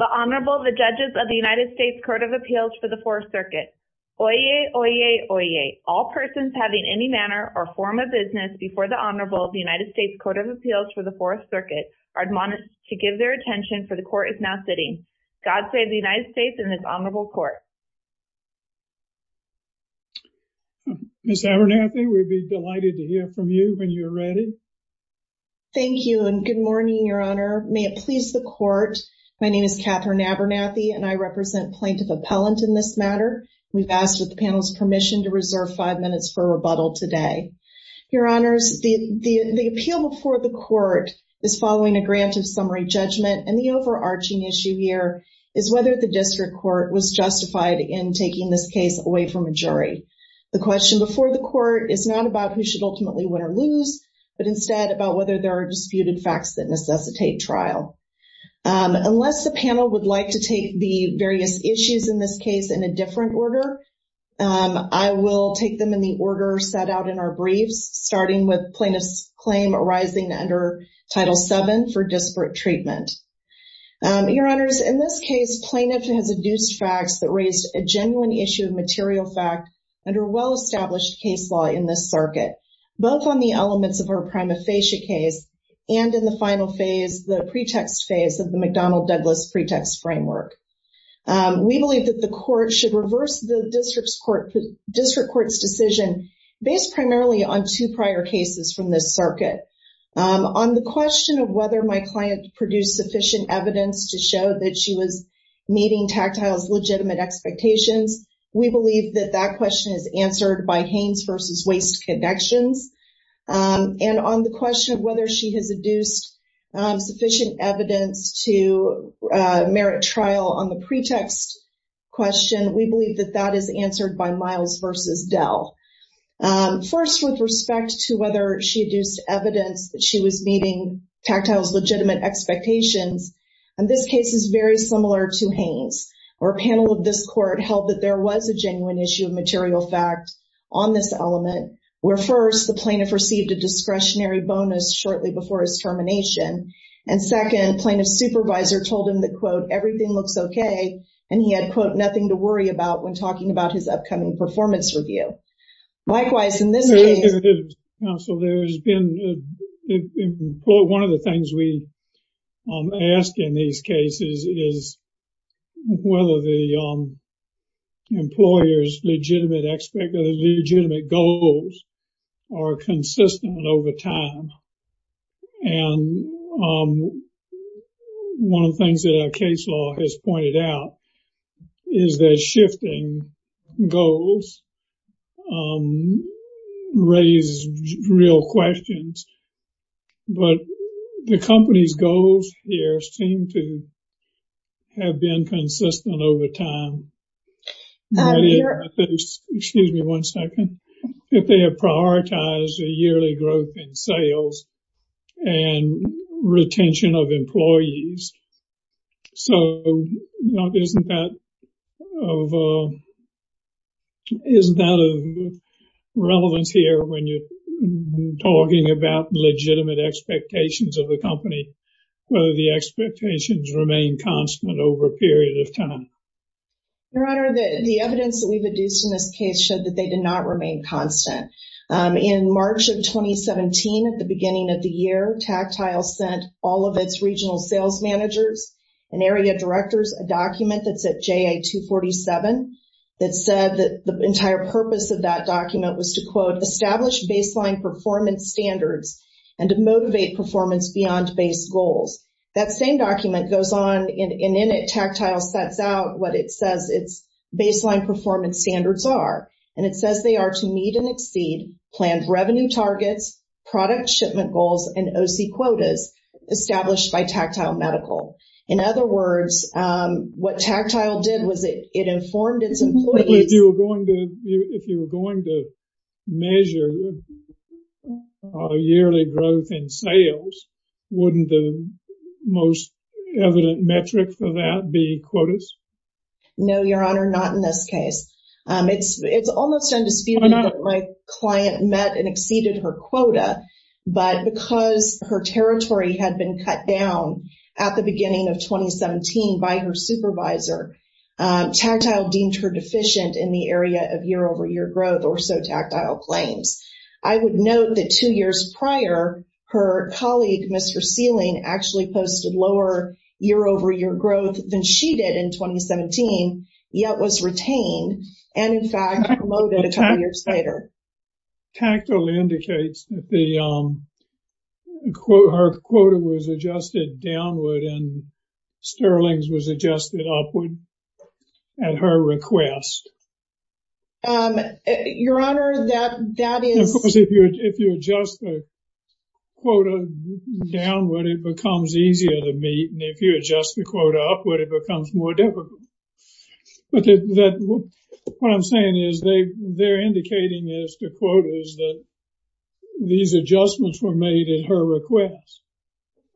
The Honorable, the Judges of the United States Court of Appeals for the Fourth Circuit. Oyez, oyez, oyez. All persons having any manner or form of business before the Honorable of the United States Court of Appeals for the Fourth Circuit are admonished to give their attention, for the Court is now sitting. God save the United States and this Honorable Court. Ms. Abernathy, we'll be delighted to hear from you when you're ready. Thank you and good morning, Your Honor. May it please the Court, my name is Katherine Abernathy and I represent plaintiff appellant in this matter. We've asked with the panel's permission to reserve five minutes for rebuttal today. Your Honors, the appeal before the Court is following a grant of summary judgment and the overarching issue here is whether the district court was justified in taking this case away from a jury. The question before the Court is not about who should ultimately win or lose, but instead about whether there are disputed facts that necessitate trial. Unless the panel would like to take the various issues in this case in a different order, I will take them in the order set out in our brief, starting with plaintiff's claim arising under Title VII for disparate treatment. Your Honors, in this case, plaintiff has deduced facts that raise a genuine issue of material facts under well-established case law in this circuit, both on the elements of her prima facie case and in the final phase, the pretext phase of the McDonnell-Douglas pretext framework. We believe that the Court should reverse the district court's decision based primarily on two prior cases from this circuit. On the question of whether my client produced sufficient evidence to show that she was meeting tactile's legitimate expectations, we believe that that question is answered by Haynes v. Weiss connections. And on the question of whether she has deduced sufficient evidence to merit trial on the pretext question, we believe that that is answered by Miles v. Dell. First, with respect to whether she deduced evidence that she was meeting tactile's legitimate expectations, this case is very similar to Haynes, where a panel of this Court held that there was a genuine issue of material facts on this element, where first, the plaintiff received a discretionary bonus shortly before his termination, and second, plaintiff's supervisor told him that, quote, everything looks okay, and he had, quote, nothing to worry about when talking about his upcoming performance review. Likewise, in this case... Counsel, there's been... One of the things we ask in these cases is whether the employer's legitimate goals are consistent over time. And one of the things that our case law has pointed out is that shifting goals raises real questions. But the company's goals here seem to have been consistent over time. Excuse me one second. If they have prioritized a yearly growth in sales and retention of employees, so isn't that relevant here when you're talking about legitimate expectations of the company, whether the expectations remain constant over a period of time? Your Honor, the evidence that we've adduced in this case shows that they did not remain constant. In March of 2017, at the beginning of the year, Tactile sent all of its regional sales managers and area directors a document that said JA247, that said that the entire purpose of that document was to, quote, establish baseline performance standards and to motivate performance beyond base goals. That same document goes on, and in it, Tactile sets out what it says its baseline performance standards are. And it says they are to meet and exceed plans revenue targets, product shipment goals, and OC quotas established by Tactile Medical. In other words, what Tactile did was it informed its employees... Most evident metric for that being quotas? No, Your Honor, not in this case. It's almost as if my client met and exceeded her quota, but because her territory had been cut down at the beginning of 2017 by her supervisor, Tactile deemed her deficient in the area of year-over-year growth, or so Tactile claims. I would note that two years prior, her colleague, Mr. Sealing, actually posted lower year-over-year growth than she did in 2017, yet was retained and, in fact, promoted a couple years later. Tactile indicates that her quota was adjusted downward and Sterling's was adjusted upward at her request. Your Honor, that is... Of course, if you adjust the quota downward, it becomes easier to meet, and if you adjust the quota upward, it becomes more difficult. But what I'm saying is they're indicating this to quotas that these adjustments were made at her request.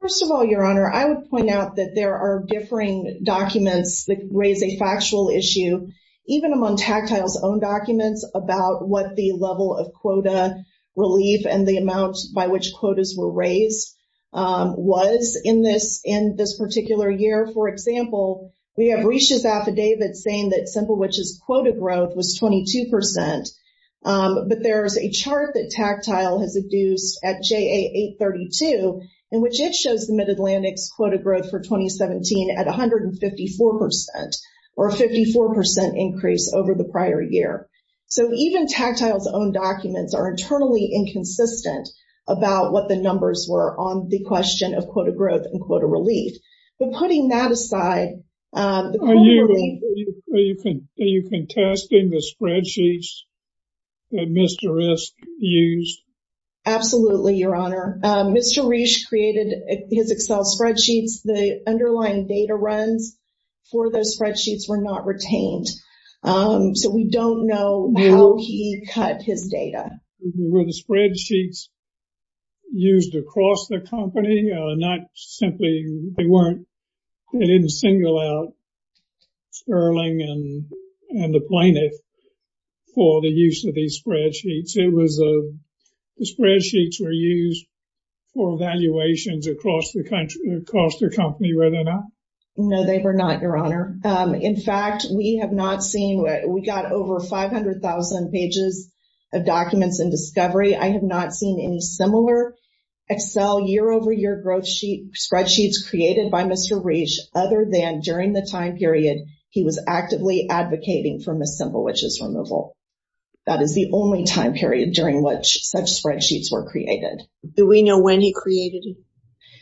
First of all, Your Honor, I would point out that there are differing documents that raise a factual issue. Even among Tactile's own documents about what the level of quota relief and the amount by which quotas were raised was in this particular year. For example, we have Resha's affidavit saying that Semplewich's quota growth was 22%, but there's a chart that Tactile has deduced at JA 832 in which it shows the Mid-Atlantic quota growth for 2017 at 154%, or a 54% increase over the prior year. So even Tactile's own documents are internally inconsistent about what the numbers were on the question of quota growth and quota relief. But putting that aside... Have you been testing the spreadsheets that Mr. Resh used? Absolutely, Your Honor. Mr. Resh created his Excel spreadsheets. The underlying data runs for those spreadsheets were not retained. So we don't know how he cut his data. The spreadsheets used across the company, not simply... They didn't single out Sterling and the plaintiff for the use of these spreadsheets. The spreadsheets were used for evaluations across the company, were they not? No, they were not, Your Honor. In fact, we have not seen... We got over 500,000 pages of documents in discovery. I have not seen any similar Excel year-over-year spreadsheet created by Mr. Resh, other than during the time period he was actively advocating for Semplewich's removal. That is the only time period during which such spreadsheets were created. Do we know when he created?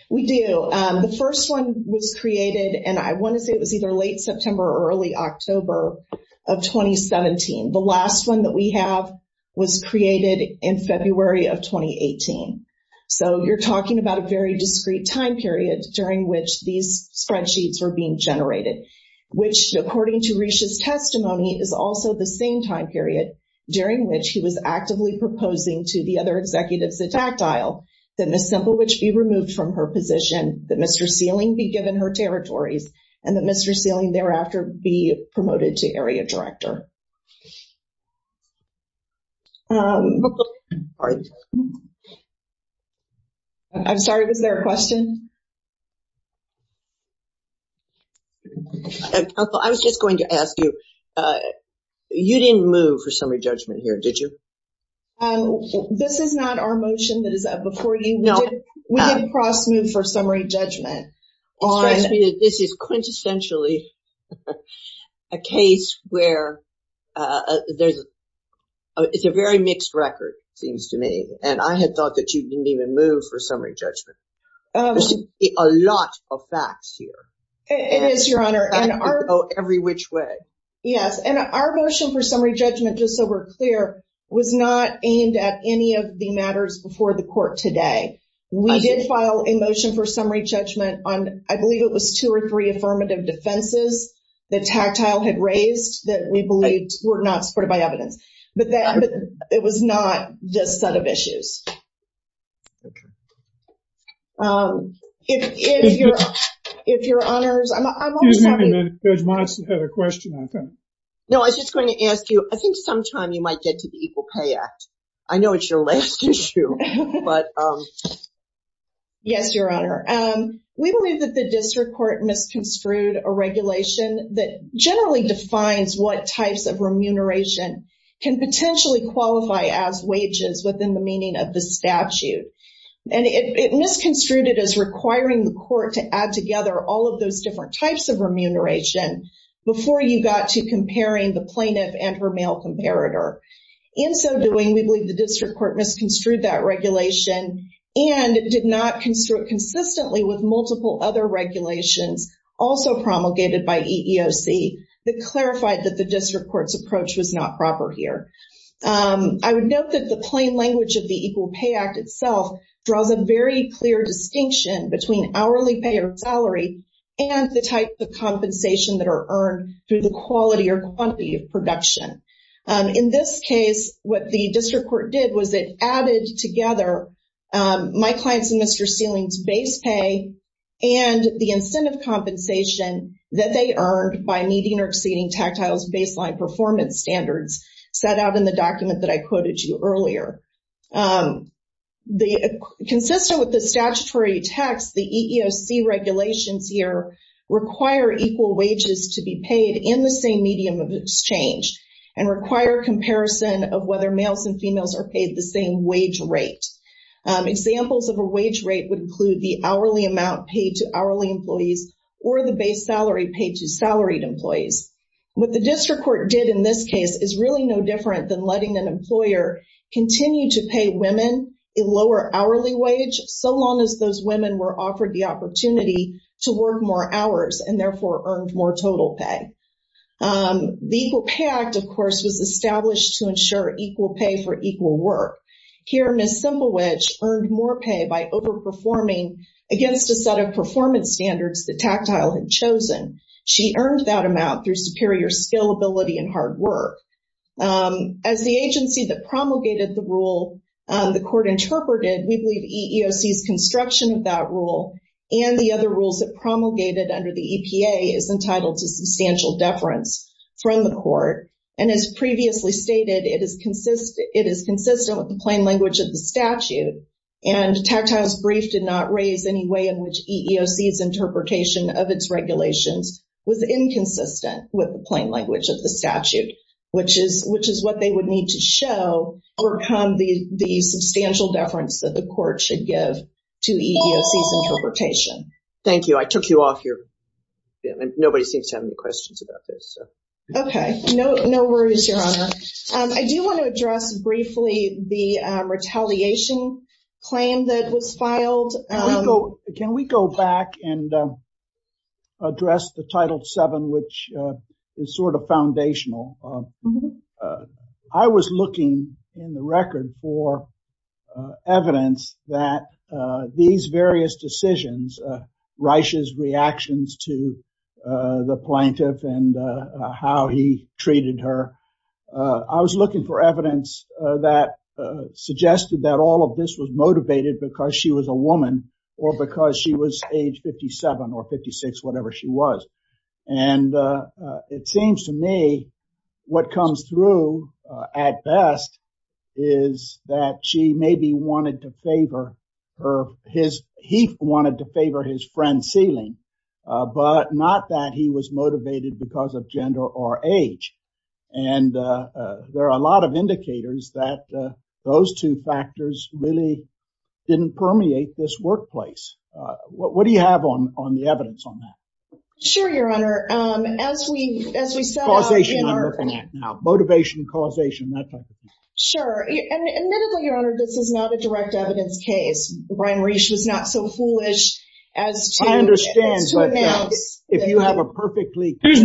We do. The first one was created, and I want to say it was either late September or early October of 2017. The last one that we have was created in February of 2018. So you're talking about a very discrete time period during which these spreadsheets were being generated, which, according to Resh's testimony, is also the same time period during which he was actively proposing to the other executives at Factile that Ms. Semplewich be removed from her position, that Mr. Sealing be given her territories, and that Mr. Sealing thereafter be promoted to area director. I'm sorry, was there a question? I was just going to ask you, you didn't move for summary judgment here, did you? This is not our motion that is up before you. We did cross-move for summary judgment. All I see is this is quintessentially a case where it's a very mixed record, seems to me, and I had thought that you didn't even move for summary judgment. There should be a lot of facts here. It is, Your Honor. Every which way. Yes, and our motion for summary judgment, just so we're clear, was not aimed at any of the matters before the court today. We did file a motion for summary judgment on, I believe it was two or three affirmative defenses that Tactile had raised that we believe were not supported by evidence. But it was not just that of issues. Okay. If Your Honor's... There's a question, I think. No, I was just going to ask you, I think sometime you might get to the Equal Pay Act. I know it's your last issue, but... Yes, Your Honor. We believe that the district court misconstrued a regulation that generally defines what types of remuneration can potentially qualify as wages within the meaning of the statute. And it misconstrued it as requiring the court to add together all of those different types of remuneration before you got to comparing the plaintiff and her male comparator. In so doing, we believe the district court misconstrued that regulation and did not construe it consistently with multiple other regulations also promulgated by EEOC that clarified that the district court's approach was not proper here. I would note that the plain language of the Equal Pay Act itself draws a very clear distinction between hourly pay or salary and the types of compensation that are earned through the quality or quantity of production. In this case, what the district court did was it added together my client's and Mr. Stiehling's base pay and the incentive compensation that they earned by meeting or exceeding Tactile's baseline performance standards set out in the document that I quoted to you earlier. Consistent with the statutory text, the EEOC regulations here require equal wages to be paid in the same medium of exchange and require comparison of whether males and females are paid the same wage rate. Examples of a wage rate would include the hourly amount paid to hourly employees or the base salary paid to salaried employees. What the district court did in this case is really no different than letting an employer continue to pay women a lower hourly wage so long as those women were offered the opportunity to work more hours and therefore earned more total pay. The Equal Pay Act, of course, was established to ensure equal pay for equal work. Here, Ms. Semblewedge earned more pay by overperforming against a set of performance standards that Tactile had chosen. She earned that amount through superior scalability and hard work. As the agency that promulgated the rule the court interpreted, we believe EEOC's construction of that rule and the other rules it promulgated under the EPA is entitled to substantial deference from the court. And as previously stated, it is consistent with the plain language of the statute and Tactile's brief did not raise any way in which EEOC's interpretation of its regulations was inconsistent with the plain language of the statute, which is what they would need to show where come the substantial deference that the court should give to EEOC's interpretation. Okay. No worries, Your Honor. I do want to address briefly the retaliation claim that was filed. Can we go back and address the Title VII, which is sort of foundational? I was looking in the record for evidence that these various decisions Reische's reactions to the plaintiff and how he treated her. I was looking for evidence that suggested that all of this was motivated because she was a woman or because she was age 57 or 56, whatever she was. It seems to me what comes through at best is that she maybe wanted to favor her, he wanted to favor his friend's feeling, but not that he was motivated because of There are a lot of indicators that those two factors really didn't permeate this workplace. What do you have on the evidence on that? Sure, Your Honor. Sure. Admittedly, Your Honor, this is not a direct evidence case. Brian Reische is not so foolish as to I understand, but if you have a perfectly clear...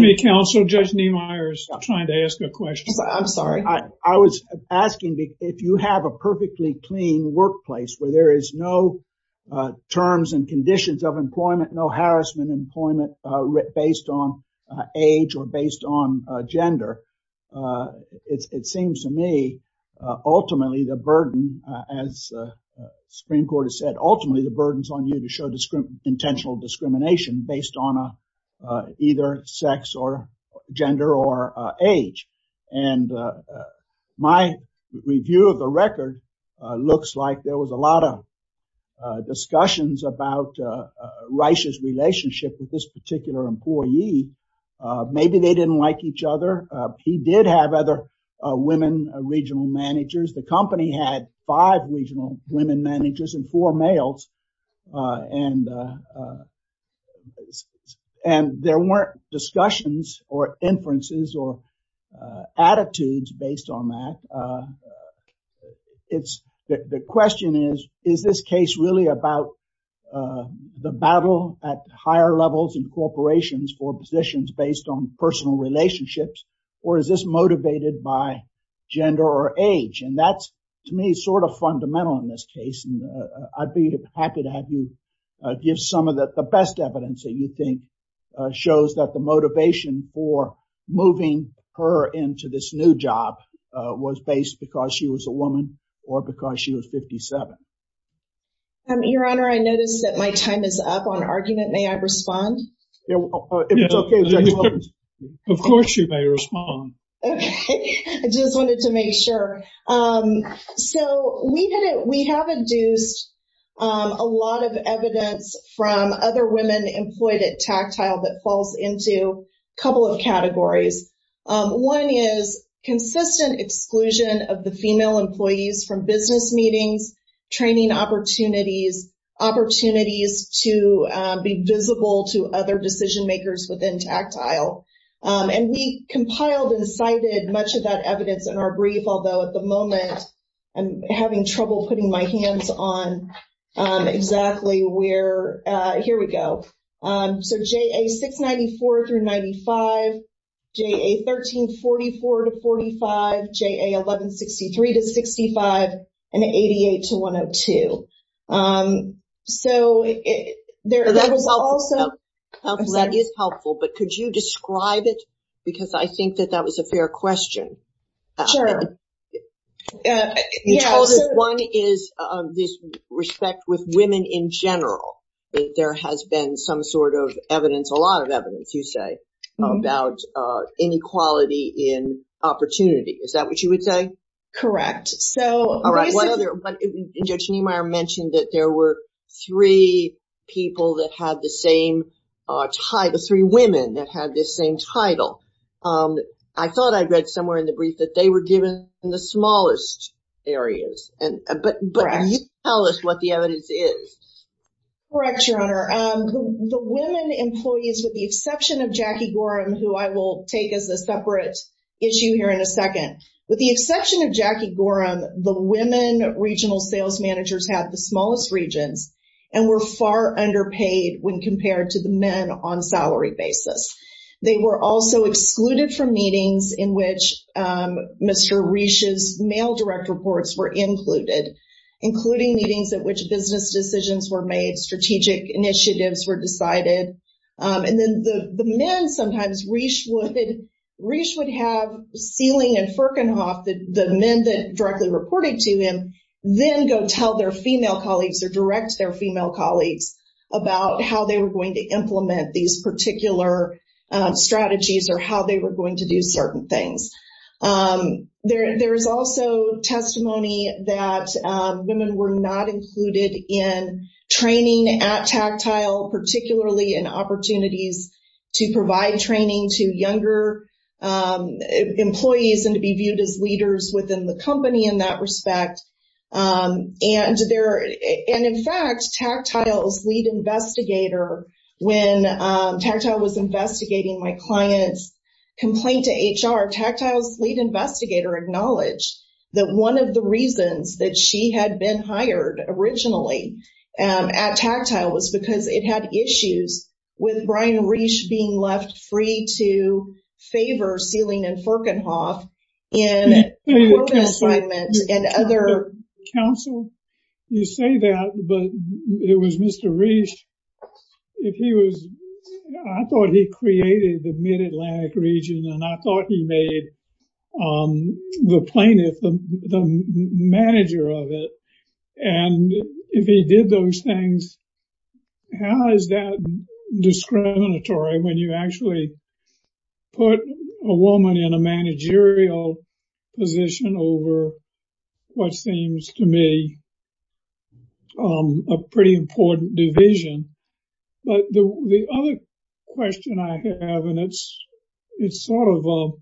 I'm sorry. I was asking if you have a perfectly clean workplace where there is no terms and conditions of employment, no harassment employment based on age or based on gender. It seems to me ultimately the burden as Supreme Court has said, ultimately the burden is on you to show intentional discrimination based on either sex or age. My review of the record looks like there was a lot of discussions about Reische's relationship with this particular employee. Maybe they didn't like each other. He did have other women regional managers. The company had five regional women managers and four males. There weren't discussions or inferences or attitudes based on that. The question is, is this case really about the battle at higher levels in corporations for positions based on personal relationships or is this motivated by gender or age? That's to me sort of fundamental in this case. I'd be happy to have you give some of the best evidence that you think shows that the motivation for moving her into this new job was based because she was a woman or because she was 57. Your Honor, I notice that my time is up on argument. May I respond? Of course you may respond. I just wanted to make sure. We have induced a lot of evidence from other women employed at Tactile that falls into a couple of categories. One is consistent exclusion of the female employees from business meetings, training opportunities, opportunities to be visible to other decision makers within Tactile. We compiled and cited much of that evidence in our brief, although at the moment I'm having trouble putting my hands on exactly where, here we go, so JA 694-95, JA 1344-45, JA 1163-65, and 88-102. That is helpful, but could you describe it because I think that that was a fair question. Sure. One is respect with women in general. There has been some sort of evidence, a lot of evidence, you say, about inequality in opportunity. Is that what you would say? Correct. There were three people that had the same title, three women that had the same title. I thought I read somewhere in the brief that they were given in the smallest areas, but can you tell us what the evidence is? Correct, Your Honor. The women employees with the exception of Jackie Gorham, who I will take as a separate issue here in a second, with the exception of Jackie Gorham, the women regional sales managers have the smallest region and were far underpaid when compared to the men on salary basis. They were also excluded from meetings in which Mr. Reich's male direct reports were included, including meetings at which business decisions were made, strategic initiatives were decided. And then the men sometimes, Reich would have Steeling and Ferkenhoff, the men that directly reported to him, then go tell their female colleagues or direct their female colleagues about how they were going to implement strategies or how they were going to do certain things. There's also testimony that women were not included in training at Tactile, particularly in opportunities to provide training to younger employees and to be viewed as leaders within the company in that respect. And in fact, Tactile's lead investigator when Tactile was investigating my client's complaint to HR, Tactile's lead investigator acknowledged that one of the reasons that she had been hired originally at Tactile was because it had issues with Brian Reich being left free to favor Steeling and Ferkenhoff in an open assignment and other counsel. You say that, but it was Mr. Reich, if he was, I thought he created the Mid-Atlantic region and I thought he made the plaintiff the manager of it. And if he did those things, how is that discriminatory when you actually put a woman in a managerial position over what seems to me a pretty important division. But the other question I have, and it's sort of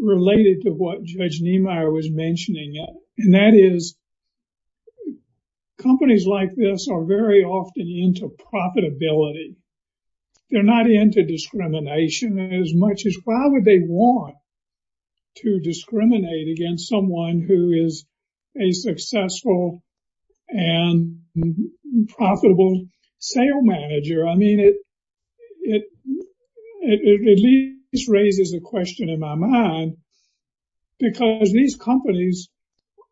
related to what Judge Niemeyer was mentioning, and that is companies like this are very often into profitability. They're not into discrimination as much as, why would they want to discriminate against someone who is a successful and profitable sale manager? I mean, this raises a question in my mind because these companies,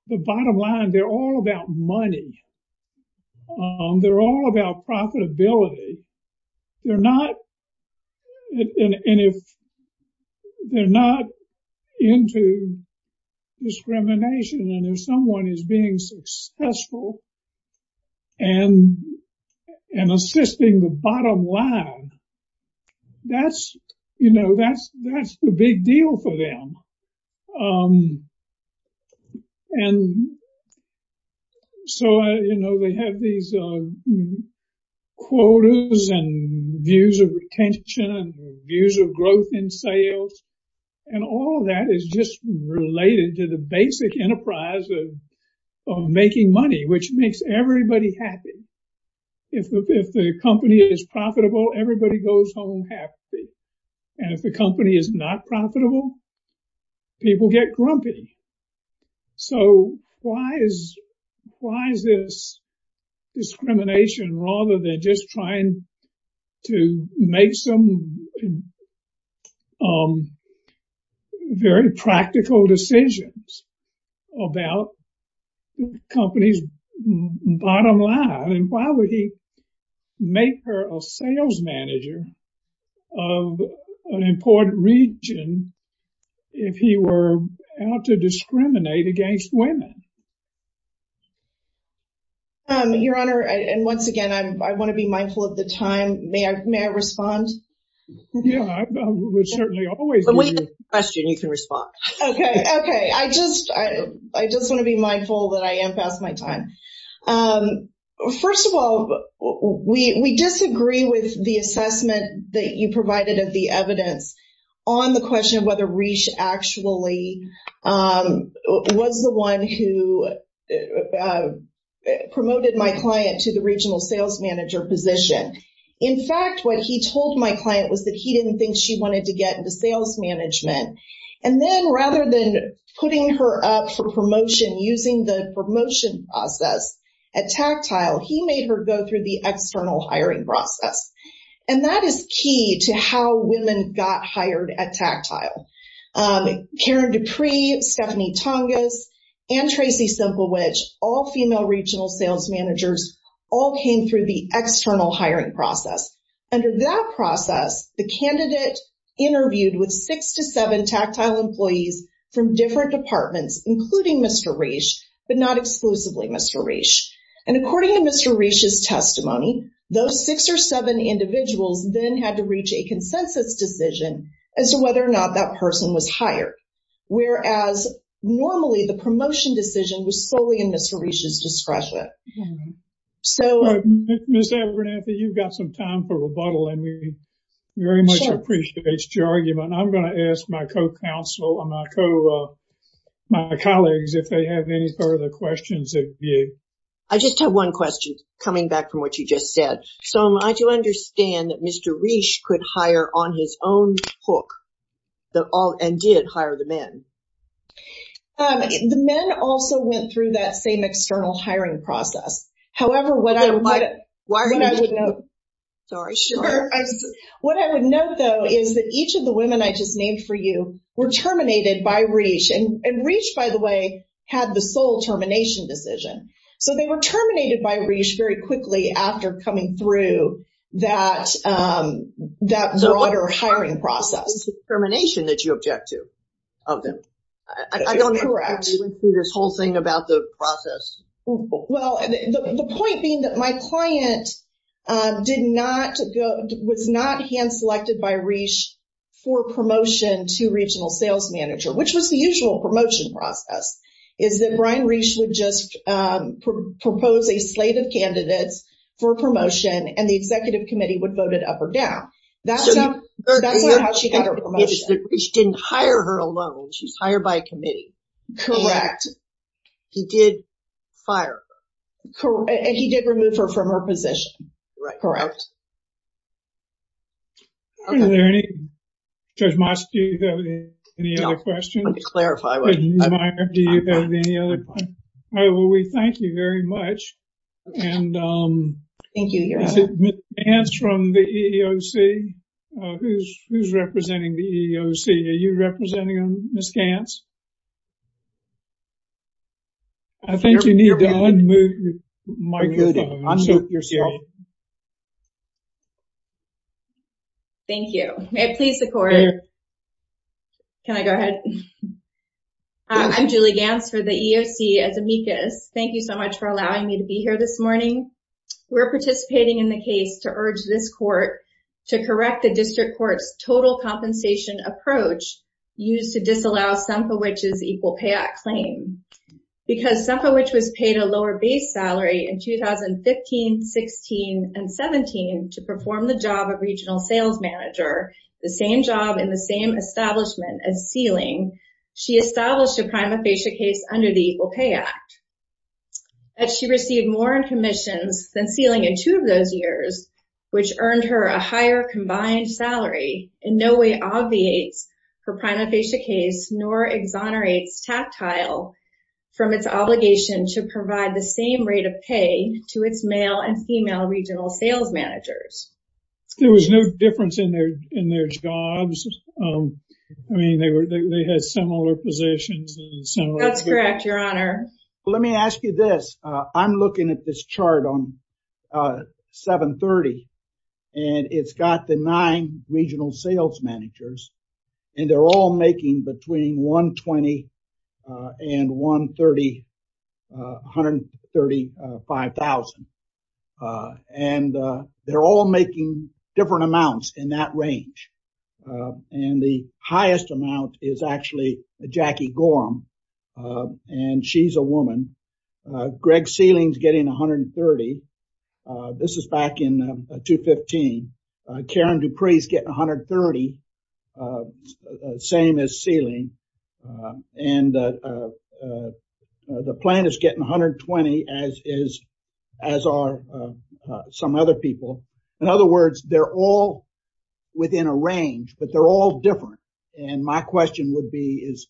the bottom line, they're all about money. They're all about profitability. They're not into discrimination. And if someone is being successful and assisting the bottom line, that's the big deal for them. And so they have these quotas and views of retention and views of growth in sales. And all that is just related to the basic enterprise of making money, which makes everybody happy. If the company is profitable, everybody goes home happy. And if the company is not profitable, people get grumpy. So why is this discrimination rather than just trying to make some very practical decisions about the company's bottom line? Why would he make her a sales manager of an important region if he were out to discriminate against women? Your Honor, and once again, I want to be mindful that I am past my time. First of all, we disagree with the assessment that you provided of the evidence on the question of whether Reesh actually was the one who promoted my client to the regional sales manager position. In fact, what he did was he told my client that he didn't think she wanted to get into sales management. And then rather than putting her up for promotion using the promotion process at Tactile, he made her go through the external hiring process. And that is key to how women got hired at Tactile. Karen Dupree, Stephanie Tongas, and Tracy Simplewich, all female regional sales managers, all came through the external hiring process. And in that process, the candidate interviewed with six to seven Tactile employees from different departments, including Mr. Reesh, but not exclusively Mr. Reesh. And according to Mr. Reesh's testimony, those six or seven individuals then had to reach a consensus decision as to whether or not that person was hired. Whereas, normally, the promotion decision was solely in Mr. Reesh's discretion. So, Ms. Abernathy, you've got some time for rebuttal, and we very much appreciate your argument. I'm going to ask my co-counsel and my colleagues if they have any further questions of you. I just have one question coming back from what you just said. So, I do understand that Mr. Reesh could hire on his own hook and did hire the men. The men also went through that same external hiring process. However, what I would note, though, is that each of the women I just named for you were terminated by Reesh. And Reesh, by the way, had the sole termination decision. So, they were terminated by Reesh very quickly after coming through that broader hiring process. It's the termination that you object to. Correct. Well, the point being that my client was not hand-selected by Reesh for promotion to regional sales manager, which was the usual promotion process, is that Brian Reesh would just propose a slate of candidates for promotion, and the executive committee would vote it up or down. That's how she got her promotion. Reesh didn't hire her alone. She was hired by a committee. Correct. He did fire her. And he did remove her from her position. Is there any other questions? Thank you very much. And Ms. Gantz from the EEOC, who's representing the EEOC? Are you representing Ms. Gantz? I think you need to unmute, Michael. Thank you. May I please record? Can I go ahead? Hi, I'm Julie Gantz for the EEOC. Thank you so much for allowing me to be here this morning. We're participating in the case to urge this court to correct a district court total compensation approach used to disallow Sumpowich's Equal Pay Act claim. Because Sumpowich was paid a lower base salary in 2015, 16, and 17 to perform the job of regional sales manager, the same job in the same establishment as Sealing, she established a prima facie case under the Equal Pay Act. As she received more in commissions than Sealing in two of those years, which earned her a higher combined salary, in no way obviates her prima facie case, nor exonerates Tactile from its obligation to provide the same rate of pay to its male and female regional sales managers. There was no difference in their jobs. I mean, they had similar positions. That's correct, Your Honor. Let me ask you this. I'm looking at this chart on 730, and it's got the nine regional sales managers, and they're all making between $120,000 and $130,000, $135,000. And they're all making different amounts in that range. And the highest amount is actually Jackie Gorham, and she's a woman. Greg Sealing's getting $130,000. This is back in 2015. Karen Dupree's getting $130,000, same as Sealing. And the plan is getting $120,000 as are some other people. In other words, they're all within a range, but they're all different. And my question would be, is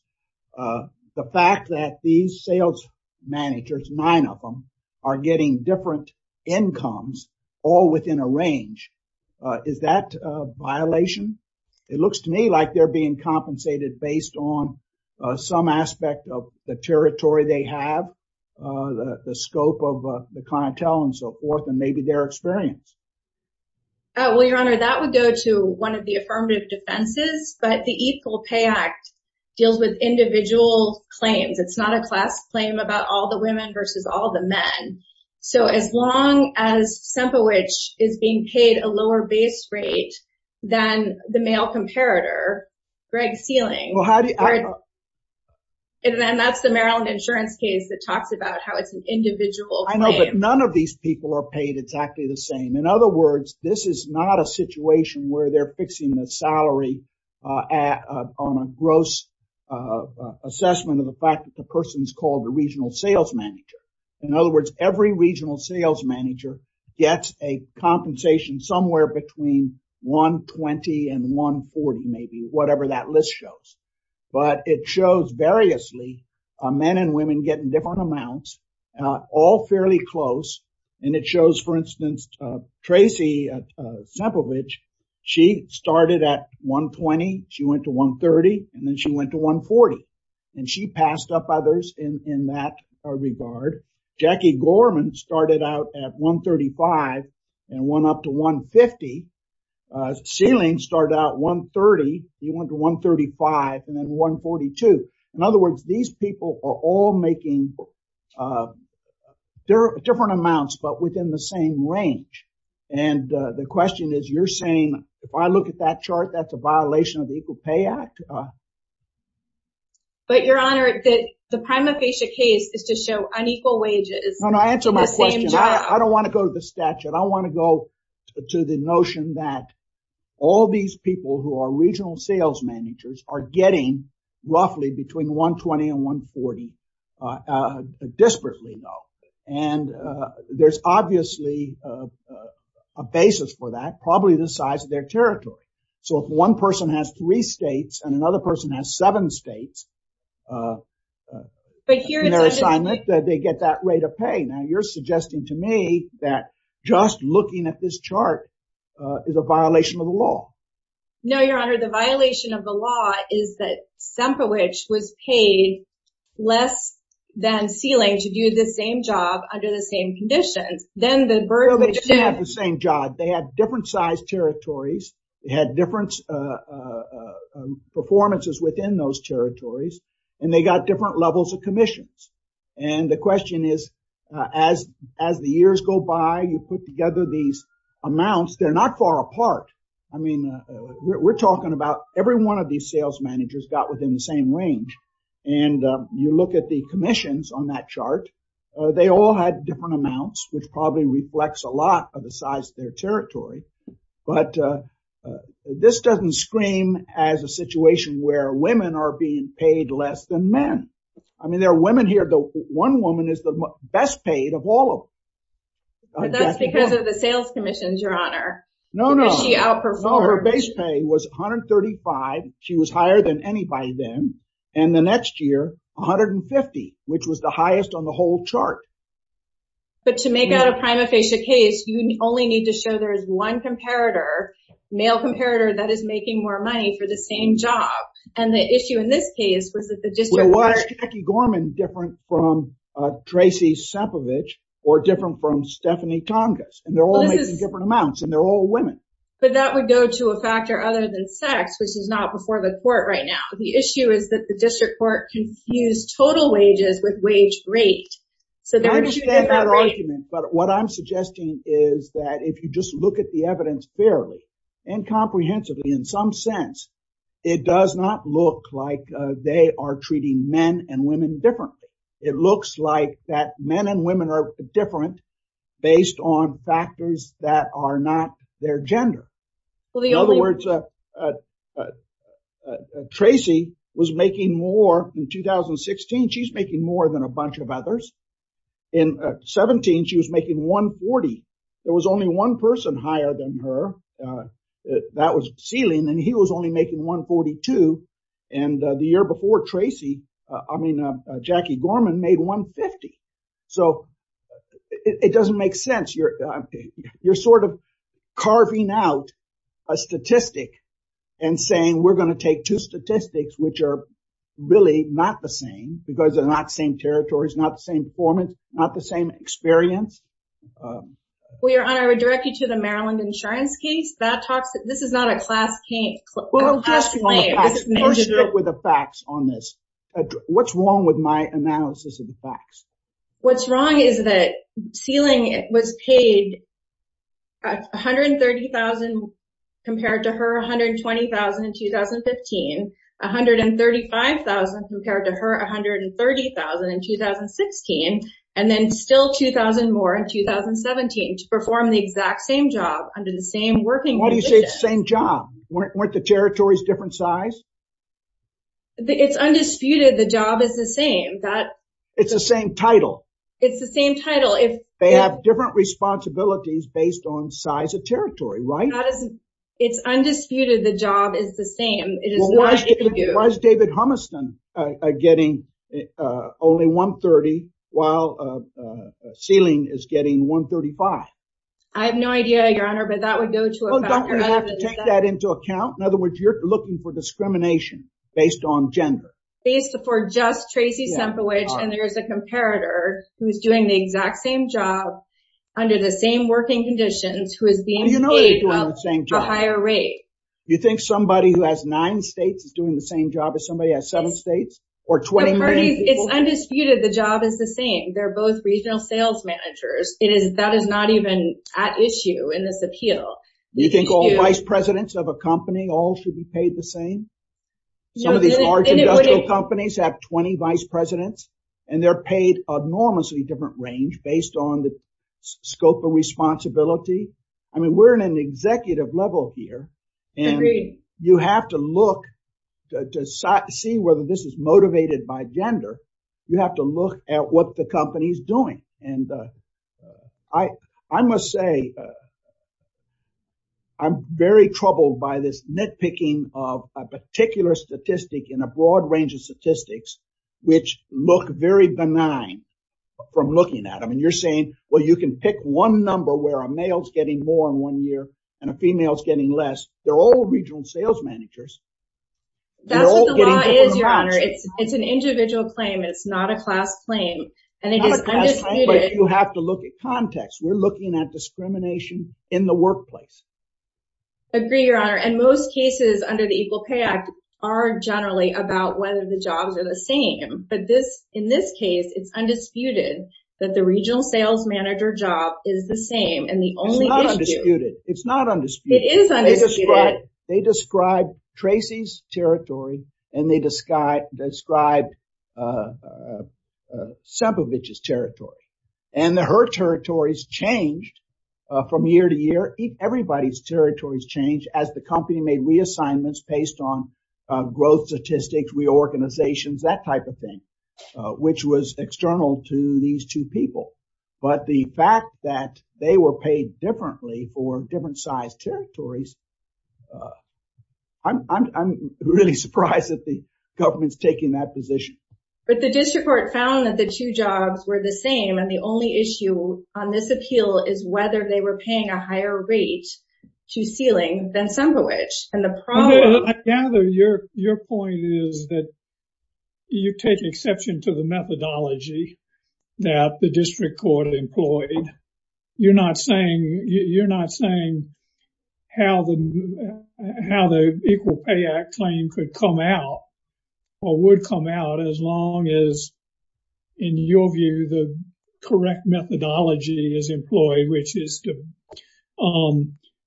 the fact that these sales managers, nine of them, are getting different incomes, all within a range, is that a violation? It looks to me like they're being compensated based on some aspect of the territory they have, the scope of the clientele and so on. Well, Your Honor, that would go to one of the affirmative defenses, but the Equal Pay Act deals with individual claims. It's not a class claim about all the women versus all the men. So as long as Sempowich is being paid a lower base rate than the male comparator, Greg Sealing, then that's the Maryland insurance case that talks about how it's an individual claim. I know that none of these people are paid exactly the same. In other words, this is not a situation where they're fixing the salary on a gross assessment of the fact that the person's called the regional sales manager. In other words, every regional sales manager gets a compensation somewhere between $120,000 and $140,000, maybe, whatever that list shows. But it shows variously men and women getting different amounts, all fairly close. And it shows, for instance, Tracy Sempowich, she started at $120,000, she went to $130,000, and then she went to $140,000. And she passed up others in that regard. Jackie Gorman started out at $135,000 and went up to $150,000. Sealing started out at $130,000, he went to $135,000, and then $142,000. In other words, these people are all making different amounts but within the same range. And the question is, you're saying, if I look at that chart, that's a violation of the Equal Pay Act? But, Your Honor, the prima facie case is to show unequal wages. No, no, answer my question. I don't want to go to the statute. I want to go to the notion that all these people who are regional sales managers are getting roughly between $120,000 and $140,000. Disparately, though. And there's obviously a basis for that, probably the size of their territory. So if one person has three states and another person has seven states, they get that rate of pay. Now, you're suggesting to me that just looking at this chart is a violation of the law. No, Your Honor, the sump of which was paid less than ceiling to do the same job under the same conditions. They had the same job. They had different sized territories. They had different performances within those territories. And they got different levels of commissions. And the question is, as the years go by, you put together these amounts, they're not far apart. I mean, we're talking about every one of these sales managers got within the same range. And you look at the commissions on that chart, they all had different amounts which probably reflects a lot of the size of their territory. But this doesn't scream as a situation where women are being paid less than men. I mean, there are women here, one woman is the best paid of all of them. That's because of the sales commissions, Your Honor. No, no. No, her base pay was $135. She was higher than anybody then. And the next year, $150. Which was the highest on the whole chart. But to make out a prima facie case, you only need to show there's one comparator, male comparator, that is making more money for the same job. And the issue in this case was that the district court... But that would go to a factor other than sex, which is not before the court right now. The issue is that the district court confused total wages with wage rate. But what I'm suggesting is that if you just look at the evidence fairly and comprehensively in some sense, it does not look like they are treating men and women differently. It looks like that men and women are different based on their gender. In other words, Tracy was making more in 2016. She's making more than a bunch of others. In 2017, she was making $140. There was only one person higher than her. That was ceiling. And he was only making $142. And the year before, Tracy, I mean Jackie Gorman, made $150. So it doesn't make sense. You're sort of carving out a statistic and saying we're going to take two statistics which are really not the same because they're not the same territories, not the same performance, not the same experience. We're directed to the Maryland insurance case. This is not a class What's wrong with my analysis of the facts? What's wrong is that ceiling was paid $130,000 compared to her $120,000 in 2015, $135,000 compared to her $130,000 in 2015, and then still $2,000 more in 2017 to perform the exact same job under the same working conditions. Why do you say the same job? Weren't the territories different size? It's undisputed the job is the same. It's the same title. They have different responsibilities based on size of territory, right? It's undisputed the job is the same. Why is David Humiston getting only $130,000 while ceiling is getting $135,000? I have no idea, Your Honor, but that would go to a factor. You have to take that into account? In other words, you're looking for discrimination based on You think somebody who has nine states is doing the same job as somebody who has seven states? It's undisputed the job is the same. They're both regional sales managers. That is not even at issue in this appeal. Do you think all vice presidents of a company all should be paid the same? That's not even at issue in this appeal. They're all vice presidents and they're paid enormously different range based on the scope of responsibility. We're at an executive level here. You have to look to see whether this is motivated by gender. You have to look at what the company is doing. I must say I'm very troubled by this nitpicking of a particular statistic in a broad range of statistics which look very benign from looking at them. You're saying you can pick one number where a male is getting more in one year and a female is getting less. They're all regional sales managers. It's an individual claim. It's not a class claim. You have to look at context. We're looking at discrimination in the workplace. I agree, Your Honor. In most cases under the Equal Pay Act are generally about whether the jobs are the same. In this case, it's undisputed that the regional sales manager job is the same. It's not undisputed. It is undisputed. They describe Tracy's territory and they describe Sempovich's territory. Her territories change from year to year. Everybody's territories change as the company made reassignments based on growth statistics, reorganizations, that type of thing, which was external to these two people. But the fact that they were paid differently for different sized territories I'm really surprised that the government is taking that position. But the district court found that the two jobs were the same and the only issue on this appeal is whether they were paying a higher rate to Ceiling than Sempovich. I gather your point is that you take exception to the methodology that the district court employed. You're not saying how the Equal Pay Act claim could come out or would come out as long as in your view the correct methodology is employed, which is to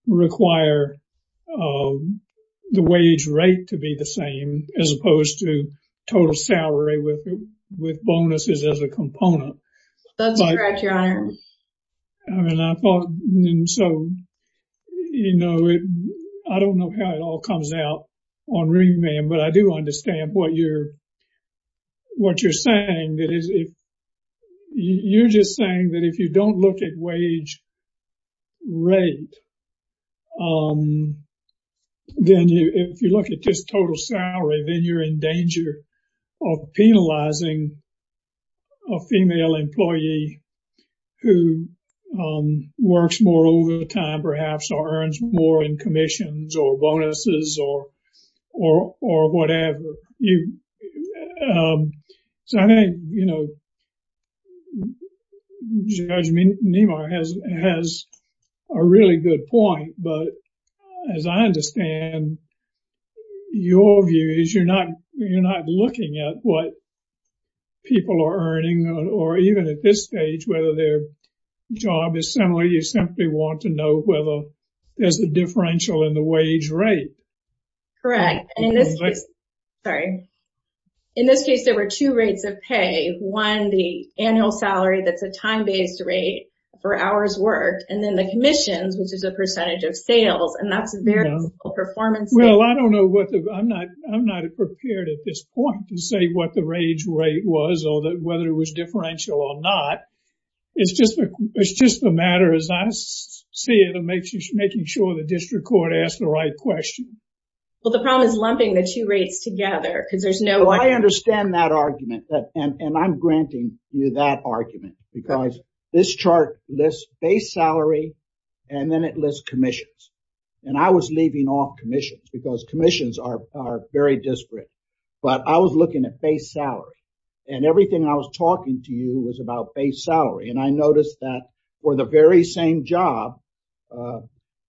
require the wage rate to be the same as opposed to total salary with bonuses as a component. So, you know, I don't know how it all comes out on Ringman, but I do understand what you're saying. You're just saying that if you don't look at wage rate, then if you look at just total salary, then you're in danger of penalizing a female employee who works more overtime perhaps or earns more in commissions or bonuses or whatever. So I think, you know, Judge Nemar has a really good point, but as I understand your view is you're not looking at what people are earning or even at this stage whether their job is similar. You simply want to know whether there's a differential in the wage rate. Correct. Sorry. In this case there were two rates of pay. One, the annual salary that's a time based rate for hours worked and then the commissions, which is the percentage of sales and that's a variable performance rate. Well, I don't know what the I'm not prepared at this point to say what the wage rate was or whether it was differential or not. It's just the matter as I see it of making sure the district court asked the right question. Well, the problem is lumping the two rates together because there's no... I understand that argument and I'm granting you that argument because this chart lists base salary and then it lists commissions and I was leaving off commissions because commissions are very disparate, but I was looking at base salary and everything I was talking to you was about base salary and I noticed that for the very same job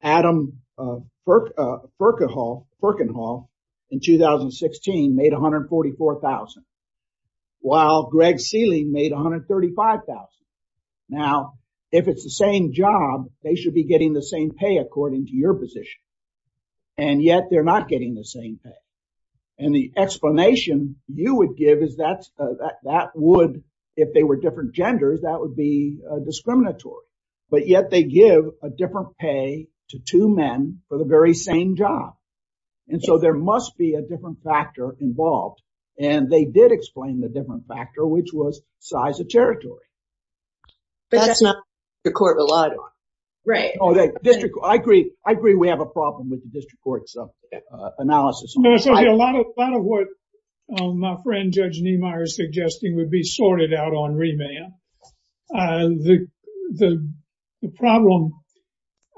Adam Perkinhall in 2016 made $144,000 while Greg Seeley made $135,000. Now, if it's the same job, they should be getting the same pay according to your position and yet they're not getting the same pay and the explanation you would give is that would, if they were different genders, that would be discriminatory but yet they give a different pay to two men for the very same job and so there must be a different factor involved and they did explain the different factor which was size of territory. That's not what the court relied on. I agree we have a problem with the district court's analysis. A lot of what my friend Judge Niemeyer is suggesting would be sorted out on remand. The problem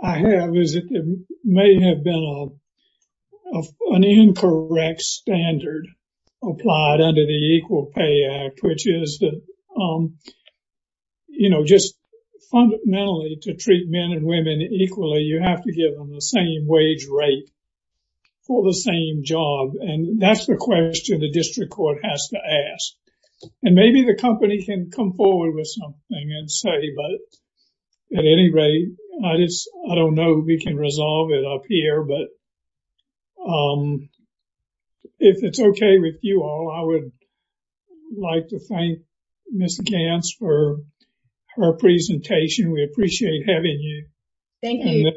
I have is that there may have been an incorrect standard applied under the Equal Pay Act which is just fundamentally to treat men and women equally you have to give them the same wage rate for the same job and that's the question the district court has to ask and maybe the company can come forward with something and say but at any rate, I don't know if we can resolve it up here but if it's okay with you all, I would like to thank Ms. Gants for her presentation. We appreciate having you. Thank you.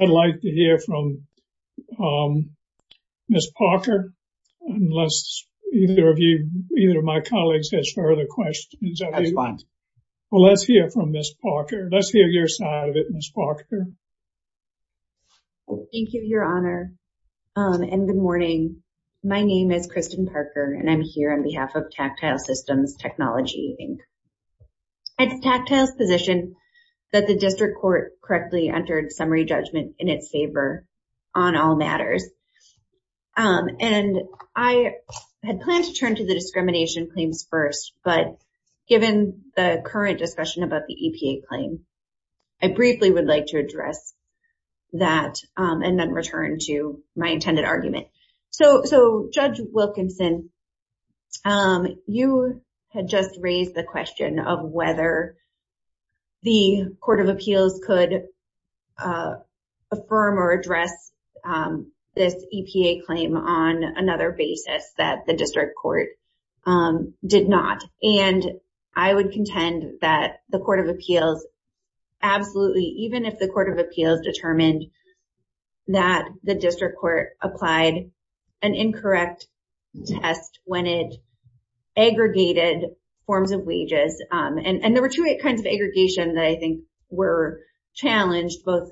I'd like to hear from Ms. Parker unless either of my colleagues has further questions. Let's hear from Ms. Parker. Let's hear your side of it, Ms. Parker. Thank you, Your Honor. Good morning. My name is Kristen Parker and I'm here on behalf of Tactile Systems Technology. It's tactile's position that the district court correctly entered summary judgment in its favor on all matters. I had planned to turn to the discrimination claims first but given the current discussion about the EPA claims, I briefly would like to address that and then return to my intended argument. Judge Wilkinson, you had just raised the question of whether the Court of Appeals could affirm or address this EPA claim on another basis that the district court did not. I would contend that the Court of Appeals absolutely, even if the Court of Appeals determined that the district court applied an incorrect test when it aggregated forms of wages. There were two kinds of aggregation that I think were challenged, both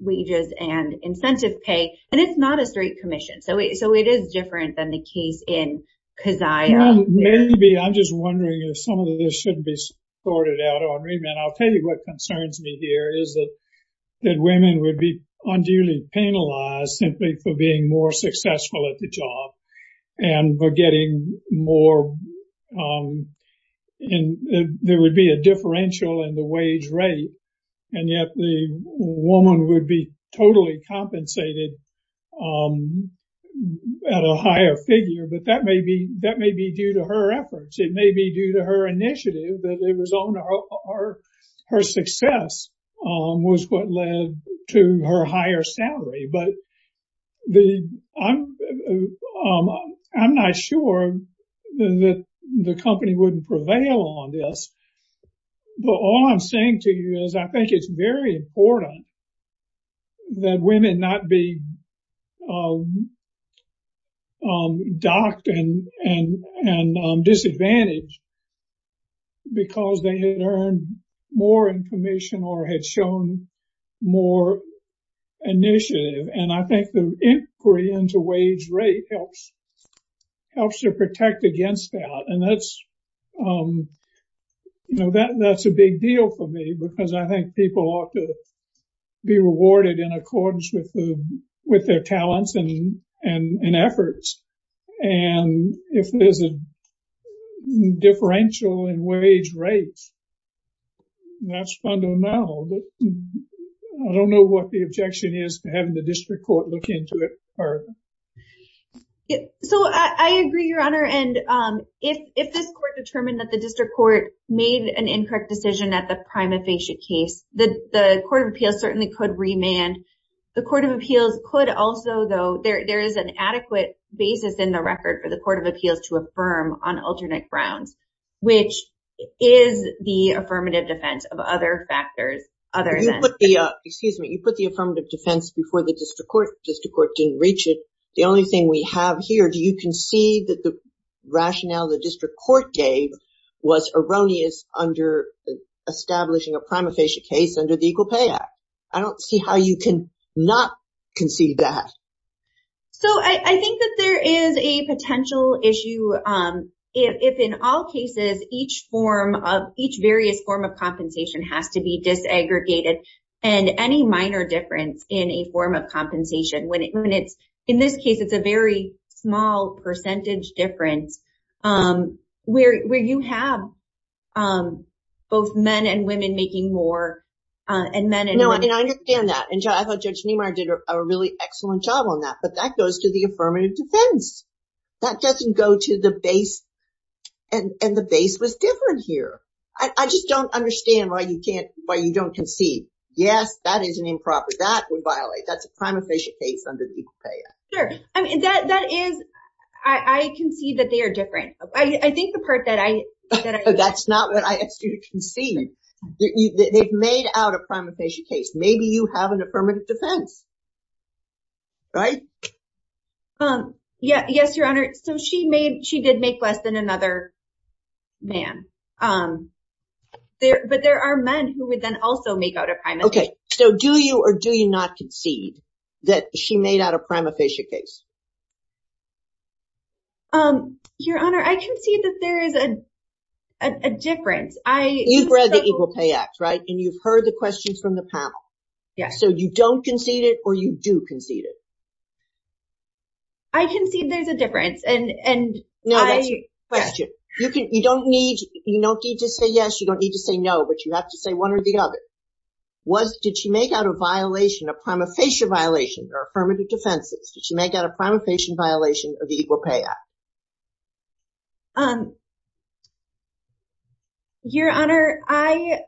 wages and incentive pay, and it's not a straight commission. So it is different than the case in Kaziah. I'm just wondering if some of this should be sorted out. I'll tell you what concerns me here is that women would be unduly penalized simply for being more successful at the job and for getting more and there would be a differential in the wage rate and yet the woman would be totally compensated at a higher figure, but that may be due to her efforts. It may be due to her initiative that it was on her success was what led to her higher salary, but I'm not sure that the company wouldn't prevail on this, but all I'm saying to you is I think it's very important that women not be docked and disadvantaged because they had earned more information or had shown more initiative, and I think the increase in the wage rate helps to protect against that, and that's a big deal for me because I think people ought to be rewarded in accordance with their talents and efforts, and if there's a differential in wage rate, that's fundamental, but I don't know what the objection is to having the district court look into it further. So I agree, Your Honor, and if this court determined that the decision at the prima facie case, the court of appeals certainly could remand. The court of appeals could also, though, there is an adequate basis in the record for the court of appeals to affirm on alternate grounds, which is the affirmative defense of other factors. You put the affirmative defense before the district court didn't reach it. The only thing we have here, do you concede that the rationale the district court gave was erroneous under establishing a prima facie case under the Equal Pay Act? I don't see how you can not concede that. So I think that there is a potential issue if in all cases each various form of compensation has to be disaggregated and any minor difference in a form of compensation, in this case it's a very small percentage difference, where you have both men and women making more and men and women making less. No, I understand that, and I thought Judge Neumar did a really excellent job on that, but that goes to the affirmative defense. That doesn't go to the base and the base was different here. I just don't understand why you don't concede. Yes, that is an improper, that would violate the prima facie case under the Equal Pay Act. Sure, that is, I concede that they are different. I think the part that I... That's not what I asked you to concede. They've made out a prima facie case. Maybe you have an affirmative defense, right? Yes, Your Honor, so she did make less than another man, but there are men who would then also make out a prima facie case. Okay, so do you or do you not concede that she made out a prima facie case? Your Honor, I concede that there is a difference. You've read the Equal Pay Act, right? And you've heard the questions from the panel. Yes. So you don't concede it or you do concede it? I concede there's a difference. No, that's a question. You don't need to say yes, you don't need to say no, but you have to say one or the other. Was... Did she make out a violation, a prima facie violation or affirmative defense? Did she make out a prima facie violation of the Equal Pay Act? Your Honor, I...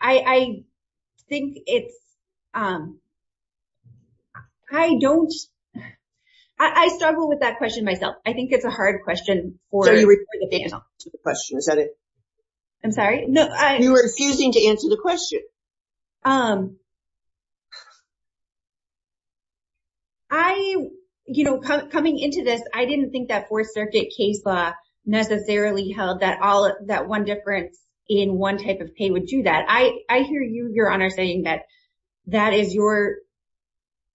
I think it's... I don't... I struggle with that question myself. I think it's a hard question for the panel. I'm sorry? You're refusing to answer the question. You know, coming into this, I didn't think that Fourth Circuit case necessarily held that one difference in one type of pay would do that. I hear you, Your Honor, saying that that is your...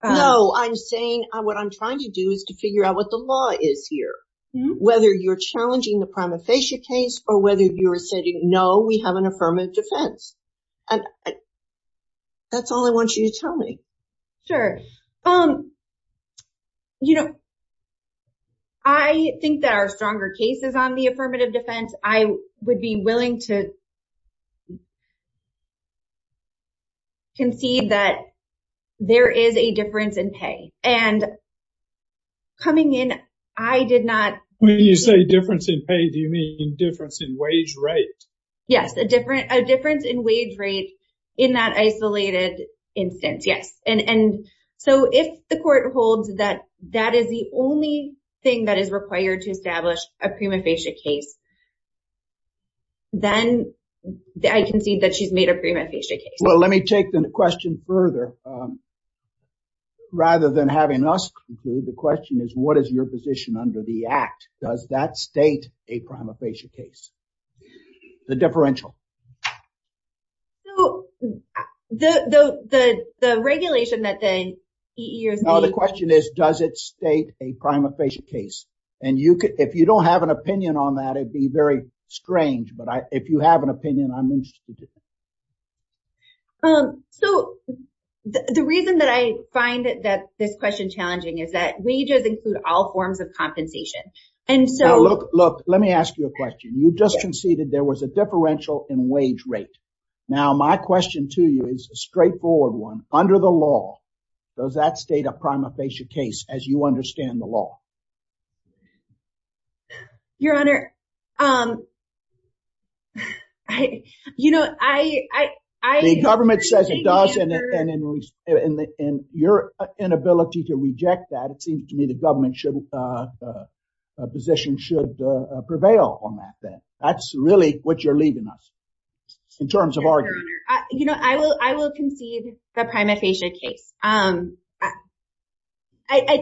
No, I'm saying what I'm trying to do is to figure out what the law is here, whether you're challenging the prima facie case or whether you're saying, no, we have an affirmative defense. That's all I want you to tell me. Sure. You know, I think there are stronger cases on the affirmative defense. I would be willing to concede that there is a difference in pay. And coming in, I did not... When you say difference in pay, do you mean difference in wage rate? Yes, a difference in wage rate in that isolated instance, yes. And so if the court holds that that is the only thing that is required to establish a prima facie case, then I concede that she's made a prima facie case. Well, let me take the question further rather than having us conclude, the question is, what is your position under the Act? Does that state a prima facie case? The differential. So the regulation that the EEOC... No, the question is, does it state a prima facie case? And if you don't have an opinion on that, it'd be very strange, So the reason that I find this question challenging is that wages include all forms of compensation. Look, let me ask you a question. You just conceded there was a differential in wage rate. Now my question to you is a straightforward one. Under the law, does that state a prima facie case as you understand the law? Your Honor, I... The government says it does, and your inability to reject that, it seems to me the government position should prevail on that. That's really what you're leaving us, in terms of argument. I will concede the prima facie case. I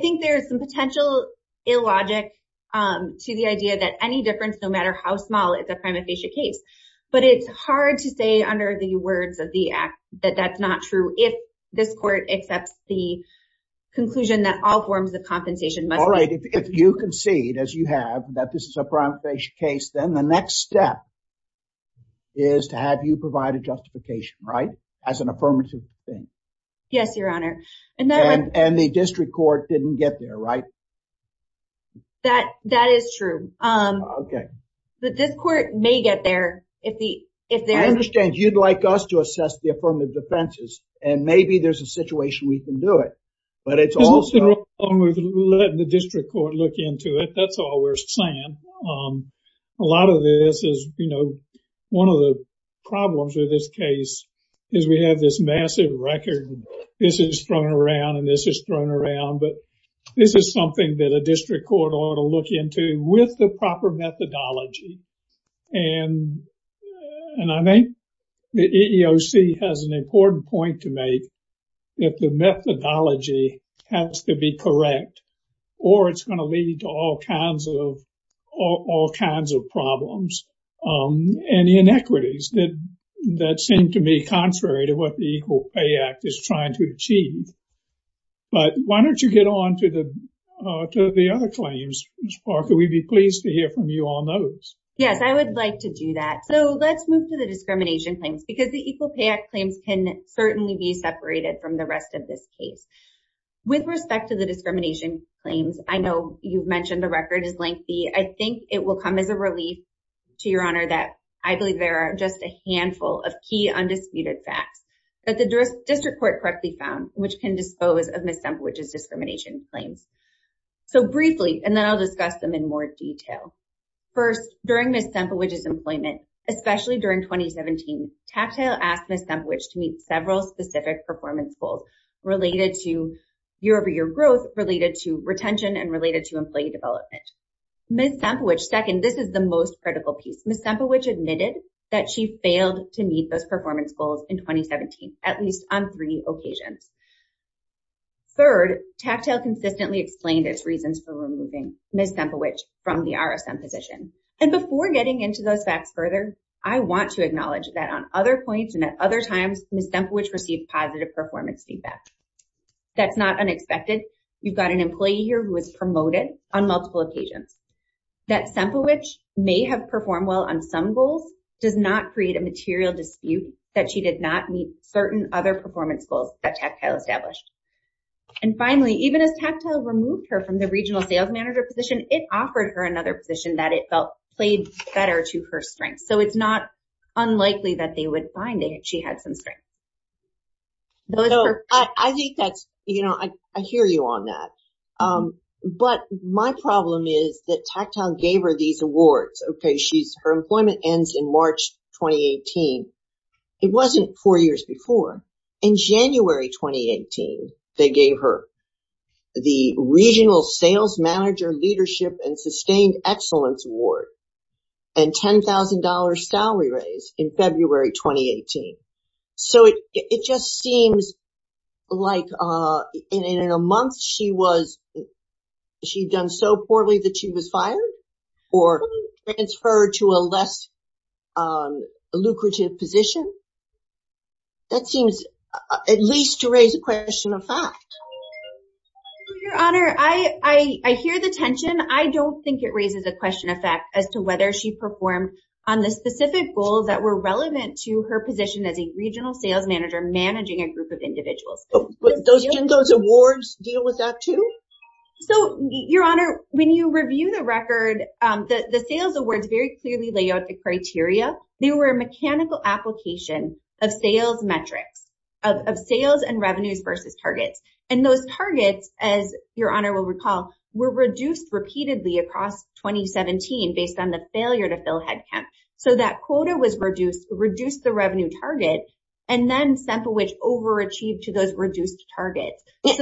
think there's potential illogic to the idea that any difference, no matter how small, is a prima facie case. But it's hard to say under the words of the Act that that's not true if this Court accepts the conclusion that all forms of compensation must be... Alright, if you concede, as you have, that this is a prima facie case, then the next step is to have you provide a justification, right? As an affirmative thing. Yes, Your Honor. And the district court didn't get there, right? That is true. The district court may get there. I understand you'd like us to assess the affirmative defenses, and maybe there's a situation we can do it. But it's also... We can let the district court look into it. That's all we're saying. A lot of this is one of the problems with this case is we have this massive record. This is thrown around and this is thrown around, but this is something that a district court ought to look into with the proper methodology. And I think the EEOC has an important point to make that the methodology has to be correct or it's going to lead to all kinds of problems and inequities that seem to me contrary to what the Equal Pay Act is trying to do. Why don't you get on to the other claims, or we'd be pleased to hear from you on those. Yes, I would like to do that. So let's move to the discrimination claims, because the Equal Pay Act claims can certainly be separated from the rest of this case. With respect to the discrimination claims, I know you've mentioned the record is lengthy. I think it will come as a relief to Your Honor that I believe there are just a handful of key undisputed facts that the district court correctly found which can dispose of Ms. Semplewitch's discrimination claims. So briefly, and then I'll discuss them in more detail. First, during Ms. Semplewitch's employment, especially during 2017, Cattail asked Ms. Semplewitch to meet several specific performance goals related to year-over-year growth, related to retention, and related to employee development. Ms. Semplewitch, second, this is the most critical piece. Ms. Semplewitch admitted that she failed to meet those performance goals in 2017, at least on three occasions. Third, Cattail consistently explained there's reasons for removing Ms. Semplewitch from the RSM position. And before getting into those facts further, I want to acknowledge that on other points and at other times, Ms. Semplewitch received positive performance feedback. That's not unexpected. You've got an employee here who was promoted on multiple occasions. That Semplewitch may have performed well on some goals does not create a material dispute that she did not meet certain other performance goals that Cattail established. And finally, even if Cattail removed her from the regional sales manager position, it offered her another position that it felt played better to her strengths. So it's not unlikely that they would find that she had some strengths. I hear you on that. But my problem is that Cattail gave her these awards. Okay, her employment ends in March 2018. It wasn't four years before. In January 2018, they gave her the Regional Sales Manager Leadership and Sustained Excellence Award and $10,000 salary raise in February 2018. So it just seems like in a month she was done so poorly that she was transferred to a less lucrative position. That seems at least to raise a question of fact. Your Honor, I hear the tension. I don't think it raises a question of fact as to whether she performed on the specific goals that were relevant to her position as a Regional Sales Manager managing a group of individuals. So your Honor, when you review the record, the sales awards very clearly lay out the criteria. They were a mechanical application of sales metrics, of sales and revenue versus targets. And those targets, as your Honor will recall, were reduced repeatedly across 2017 based on the failure to fill headcount. So that quota was reduced to reduce the revenue target and then Semplewich overachieved to those reduced targets. I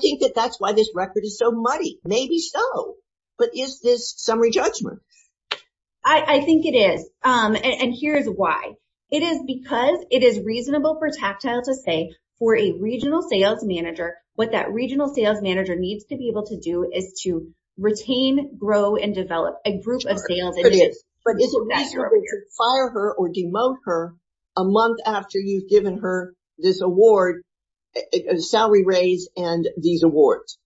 think that that's why this record is so muddy. Maybe so. But is this summary judgment? I think it is. And here's why. It is because it is reasonable for tactile to say for a Regional Sales Manager what that Regional Sales Manager needs to be able to do is to retain, grow, and develop a group of sales individuals. But it's a matter of whether to fire her or demote her a month after you've given her this award, a salary raise, and these things.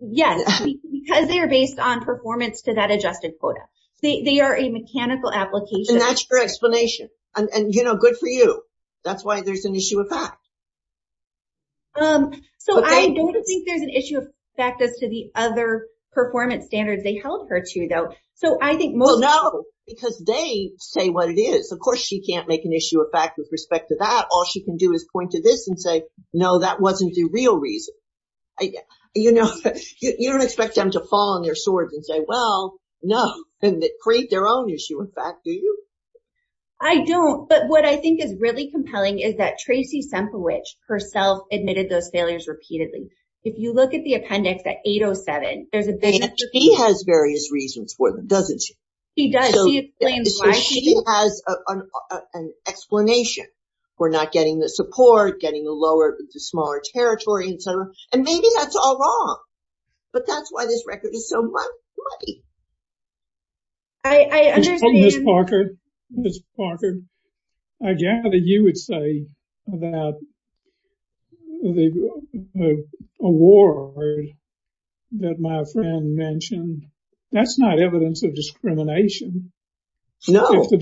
Yes. Because they are based on performance to that adjusted quota. They are a mechanical application. And that's your explanation. And, you know, good for you. That's why there's an issue of fact. So I don't think there's an issue of fact as to the other performance standards they held her to, though. No, because they say what it is. Of course she can't make an issue of fact with respect to that. All she can do is point to this and say, no, that wasn't the real reason. You know, you don't expect them to fall on their swords and say, well, no, and create their own issue of fact, do you? I don't. But what I think is really compelling is that Tracy Semplewitch herself admitted those failures repeatedly. If you look at the appendix at 807, there's a big She has various reasons for them, doesn't she? She does. She has an explanation for not getting the support, getting the lower, the smaller territory, and maybe that's all wrong. But that's why this record is so much money. Ms. Parker, Ms. Parker, I gather you would say that the award that my friend mentioned, that's not evidence of discrimination. No. To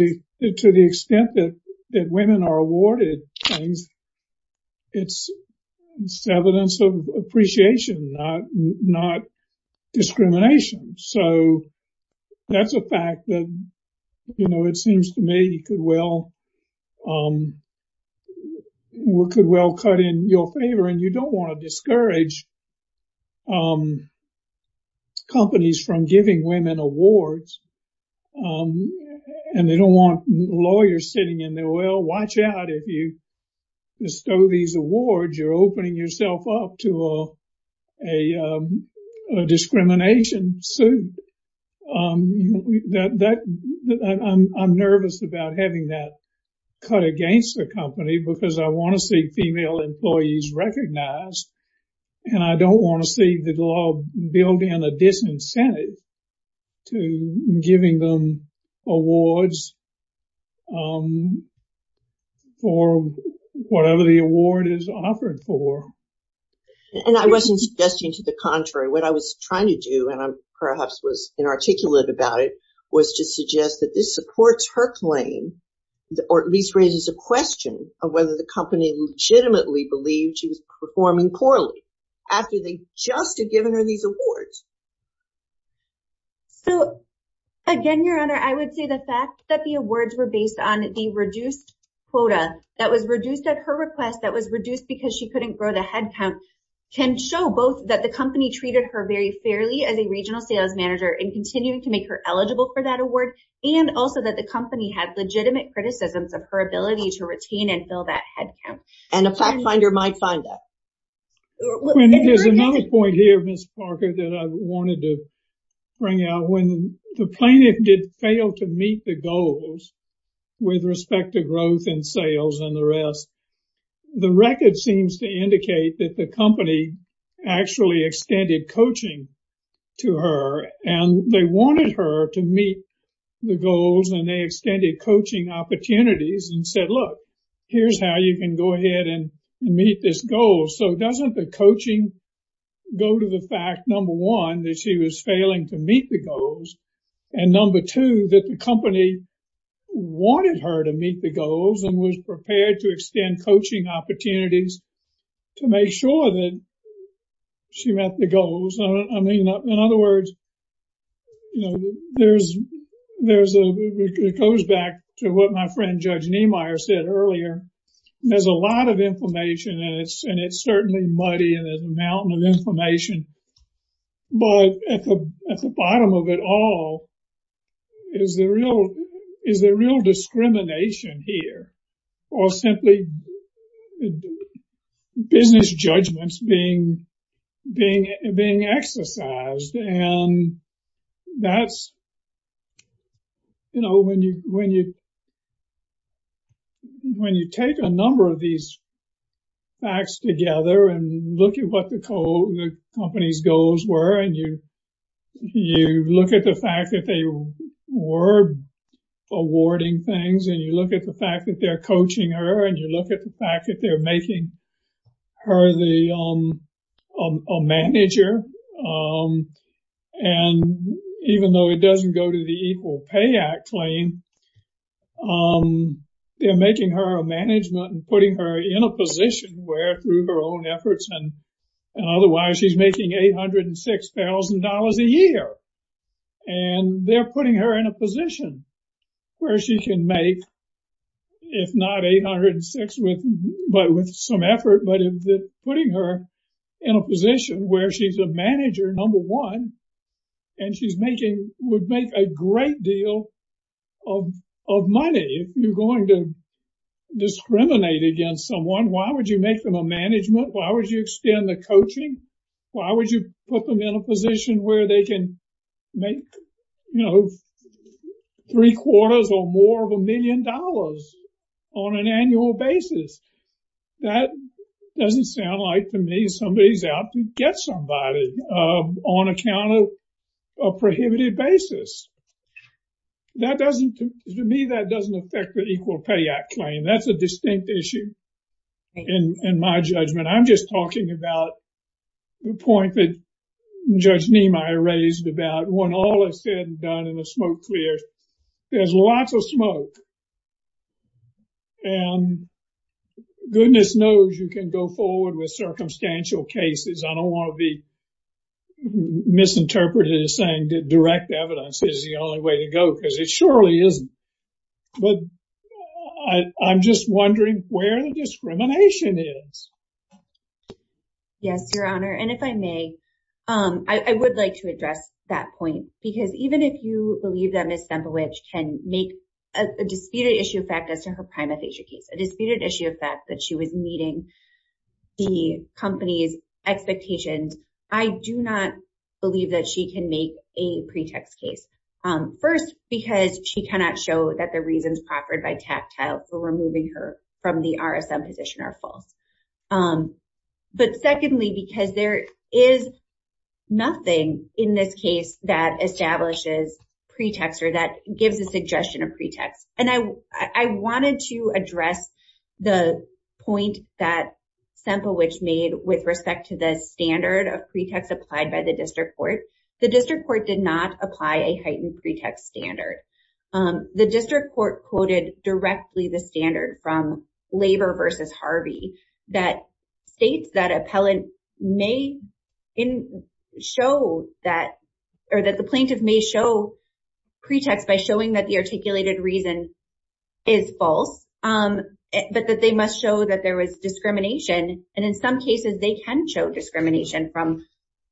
the extent that women are awarded things, it's evidence of appreciation, not discrimination. So that's a fact that, you know, it seems to me could well cut in your favor and you don't want to discourage companies from giving women awards and they don't want lawyers sitting in there, well, watch out if you bestow these awards, you're opening yourself up to a discrimination suit. I'm nervous about having that cut against the company because I want to see female employees recognized and I don't want to see the law building a disincentive to giving them awards for whatever the award is offered for. And I wasn't suggesting to the contrary. What I was trying to do, and perhaps was inarticulate about it, was to suggest that this supports her claim or at least raises a question of whether the company legitimately believes she's performing poorly after they just have given her these awards. Again, Your Honor, I would say the fact that the awards were based on a reduced quota, that was reduced at her request, that was reduced because she couldn't grow the headcount, can show both that the company treated her very fairly as a regional sales manager and continued to make her eligible for that award, and also that the company had legitimate criticisms of her ability to retain and fill that headcount. And a fact finder might find that. There's another point here, Ms. Parker, that I wanted to bring out. When the plaintiff did fail to meet the goals with respect to growth and sales and the rest, the record seems to indicate that the company actually extended coaching to her and they wanted her to meet the goals and they extended coaching opportunities and said, look, here's how you can go ahead and meet this goal. So doesn't the coaching go to the fact, number one, that she was failing to meet the goals, and number two, that the company wanted her to meet the goals and was prepared to extend coaching opportunities to make sure that she met the goals. In other words, it goes back to what my friend Judge Niemeyer said earlier. There's a lot of information, and it's certainly muddy and a mountain of information, but at the bottom of it all is the real discrimination here, or simply business judgments being exercised, and that's when you take a number of these facts together and look at what the company's goals were and you look at the fact that they were awarding things and you look at the fact that they're coaching her and you look at the fact that they're making her a manager, and even though it doesn't go to the Equal Pay Act claim, they're making her a manager and putting her in a position where, through her own efforts and otherwise, she's making $806,000 a year, and they're putting her in a position where she can make, if not $806,000 with some effort, but putting her in a position where she's a manager, number one, and would make a lot of money if you're going to discriminate against someone. Why would you make them a management? Why would you extend the coaching? Why would you put them in a position where they can make, you know, three-quarters or more of a million dollars on an annual basis? That doesn't sound like, to me, somebody's out to get somebody on a kind of prohibited basis. To me, that doesn't affect the Equal Pay Act claim. That's a distinct issue in my judgment. I'm just talking about the point that Judge Niemeyer raised about when all is said and done and the smoke clears, there's lots of smoke, and goodness knows you can go forward with circumstantial cases. I don't want to be misinterpreted as saying direct evidence is the only way to go, because it surely isn't. But I'm just wondering where the discrimination is. Yes, Your Honor, and if I may, I would like to address that point, because even if you believe that Ms. Bembridge can make a disputed issue effect as to her primary case, a disputed issue effect that she was meeting the company's expectations, I do not believe that she can make a pretext case. First, because she cannot show that the reasons proffered by tactile for removing her from the RSM position are false. But secondly, because there is nothing in this case that establishes pretext or that gives a suggestion of pretext. And I wanted to address the point that Semplewicz made with respect to the standard of pretext applied by the district court. The district court did not apply a heightened pretext standard. The district court quoted directly the standard from Laver v. Harvey that states that appellant may show that, or that the plaintiff may show pretext by showing that the articulated reason is false, but that they must show that there was discrimination, and in some cases they can show discrimination from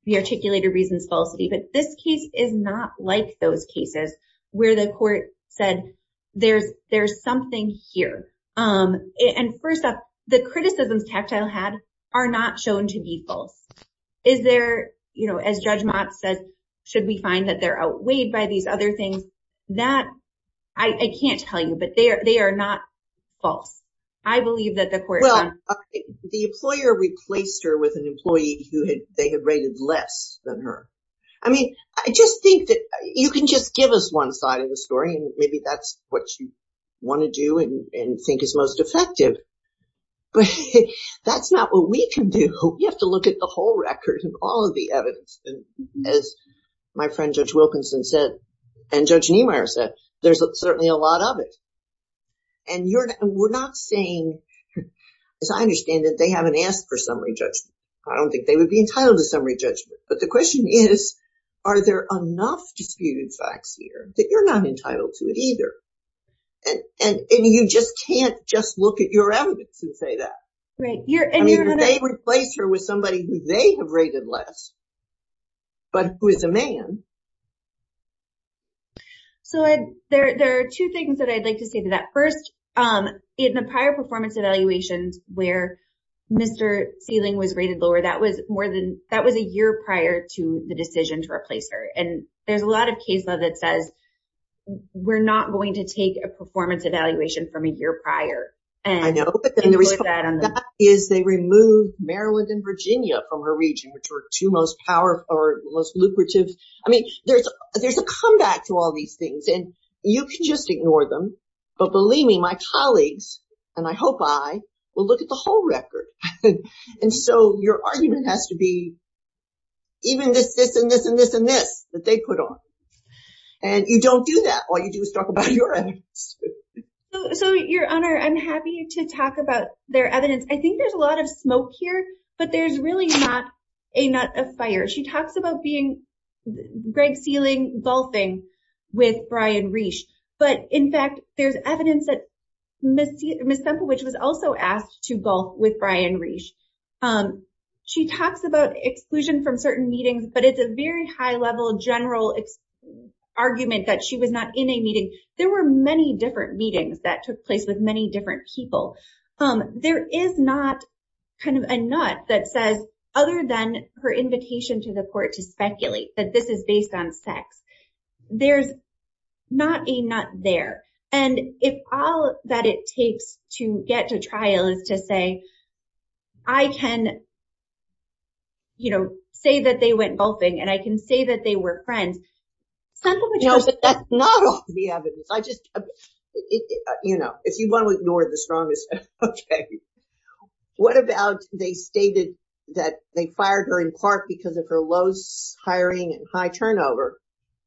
the articulated reason's falsity, but this case is not like those cases where the court said there's something here. And first off, the criticisms tactile had are not shown to be false. Is there, as Judge Motz said, should we find that they're outweighed by these other things? I can't tell you, but they are not false. I believe that the court... Well, the employer replaced her with an employee who they had rated less than her. I mean, I just think that you can just give us one side of the story and maybe that's what you want to do and think is most effective, but that's not what we can do. We have to look at the whole record and all of the evidence. As my friend Judge Wilkinson said and Judge Niemeyer said, there's certainly a lot of it. And we're not saying, as I understand it, they haven't asked for summary judgment. I don't think they would be entitled to summary judgment, but the question is are there enough disputed facts here that you're not entitled to it either? And you just can't just look at your evidence and say that. They replaced her with somebody who they have rated less, but who is a man. There are two things that I'd like to say to that. First, in the prior performance evaluation where Mr. Sealing was rated lower, that was a year prior to the decision to replace her. And there's a lot of case law that says we're not going to take a performance evaluation from a year prior. I know, but they removed Maryland and Virginia from her region, which were the two most lucrative. I mean, there's a comeback to all these things, and you can just ignore them. But believe me, my colleagues and I hope I will look at the whole record. And so your argument has to be even this, this, and this, and this, and this that they put on. And you don't do that. All you do is talk about your evidence. So, Your Honor, I'm happy to talk about their evidence. I think there's a lot of smoke here, but there's really not a nut of fire. She talks about being Greg Sealing gulfing with Brian Reisch. But, in fact, there's evidence that Ms. Semplewich was also asked to gulf with Brian Reisch. She talks about exclusion from certain meetings, but it's a very high-level, general argument that she was not in a meeting. There were many different meetings that took place with many different people. There is not kind of a nut that says, other than her invitation to the court to speculate, that this is based on sex. There's not a nut there. And if all that it takes to get to trial is to say, I can say that they went gulfing, and I can say that they were friends, Semplewich knows that that's not all the evidence. If you want to ignore the strongest evidence, okay. What about they stated that they fired her in part because of her low hiring and high turnover,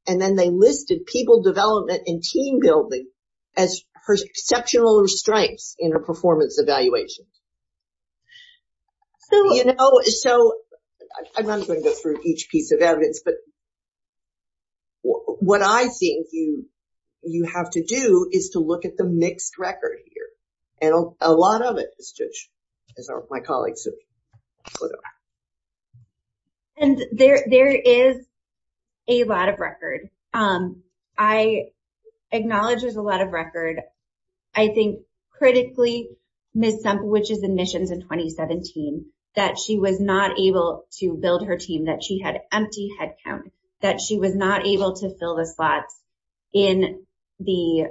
and then they listed people development and team building as her exceptional strengths in her performance evaluation. You know, so I'm not going to go through each piece of evidence, but what I think you have to do is to look at the mixed record here. And a lot of it is just my colleagues. And there is a lot of record. I acknowledge there's a lot of record. I think critically, Ms. Semplewich's admission to 2017 that she was not able to build her team, that she had empty headcount, that she was not able to fill the slots in the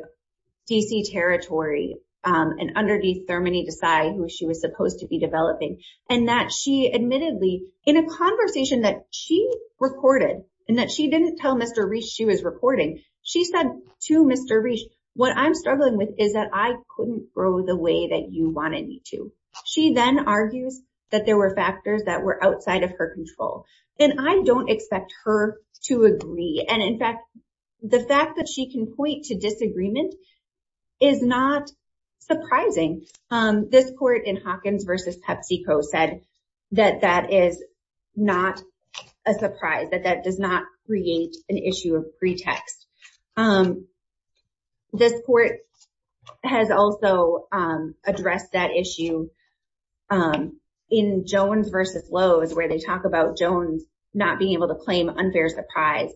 D.C. Territory and underneath Thermony Desai, who she was supposed to be developing, and that she admittedly, in a conversation that she recorded, and that she didn't tell Mr. Reach she was reporting, she said to Mr. Reach, what I'm struggling with is that I couldn't grow the way that you wanted me to. She then argued that there were factors that were outside of her control. And I don't expect her to agree. And in fact, the fact that she can point to disagreement is not surprising. This court in Hawkins v. PepsiCo said that that is not a surprise, that that does not create an issue of pretext. This court has also addressed that issue in Jones v. Lowe's, where they talk about Jones not being able to get to trial,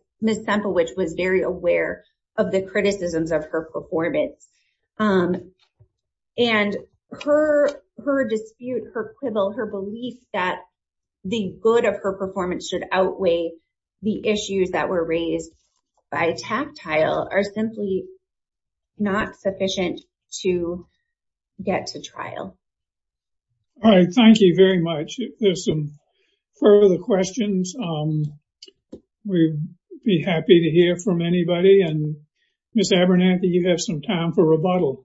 which was very aware of the criticisms of her performance. And her dispute, her quibble, her belief that the good of her performance should outweigh the issues that were raised by tactile are simply not sufficient to get to trial. All right. Thank you very much. If there's some further questions, we'd be happy to hear from anybody. And Ms. Abernathy, you have some time for rebuttal.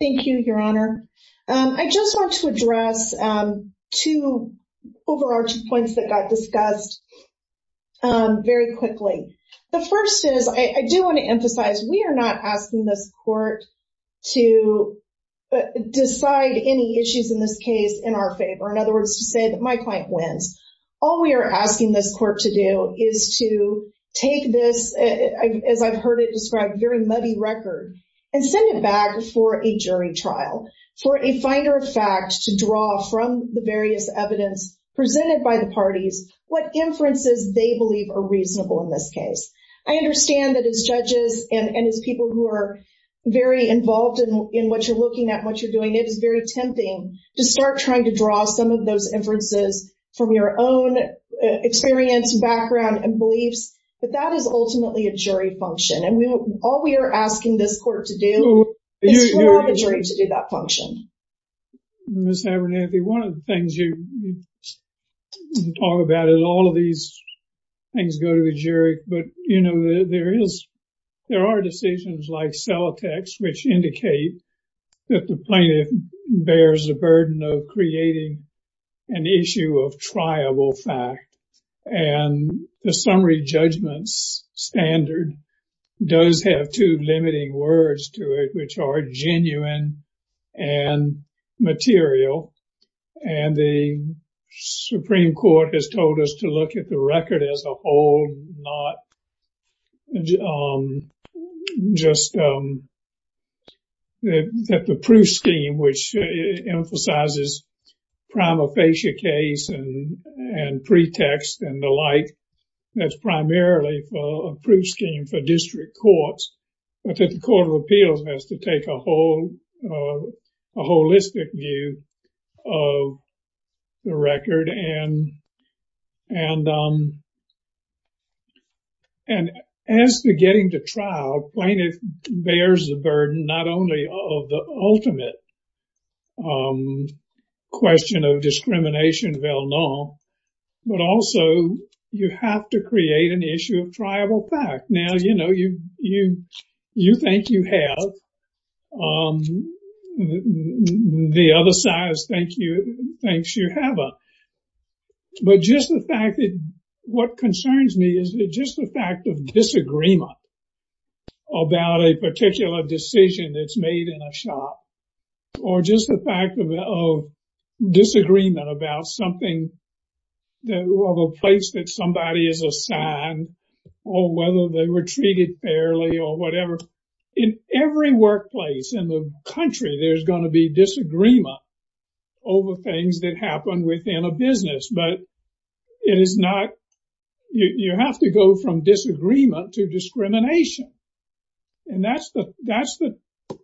Thank you, Your Honor. I just want to address two overarching points that got discussed very quickly. The first is, I do want to emphasize, we are not asking this court to decide any issues in this case in our favor. In other words, she said, my client wins. All we are asking this court to do is to take this, as I've heard it described, very muddy record and send it back for a jury trial for a finder of facts to draw from the various evidence presented by the parties what inferences they believe are reasonable in this case. I understand that as judges and as people who are very involved in what you're looking at, what you're doing, it is very tempting to start trying to draw some of those inferences from your own experience, background, and beliefs. But that is ultimately a jury function. And all we are asking this court to do is for the jury to do that function. Ms. Abernathy, one of the things you talk about is all of these things go to the jury. But, you know, there is there are decisions like cell text which indicate that the plaintiff bears the burden of creating an issue of triable fact. And the summary judgment standard does have two limiting words to it which are genuine and material. And the Supreme Court has told us to look at the record as a whole, not just that the proof scheme which emphasizes prima facie case and pretext and the like, that's primarily a proof scheme for district courts. But the Court of Appeals has to take a holistic view of the record. And as to getting to trial, plaintiff bears the burden not only of the ultimate question of discrimination, but also you have to create an issue of triable fact. Now, you know, you think you have. The other side thinks you haven't. But just the fact that what concerns me is just the fact of disagreement about a particular decision that's made in a shop or just the fact of disagreement about something or the place that somebody is assigned or whether they were treated fairly or whatever. In every workplace in the country, there's going to be disagreement over things that happen within a business. But it is not, you have to go from disagreement to discrimination. And that's the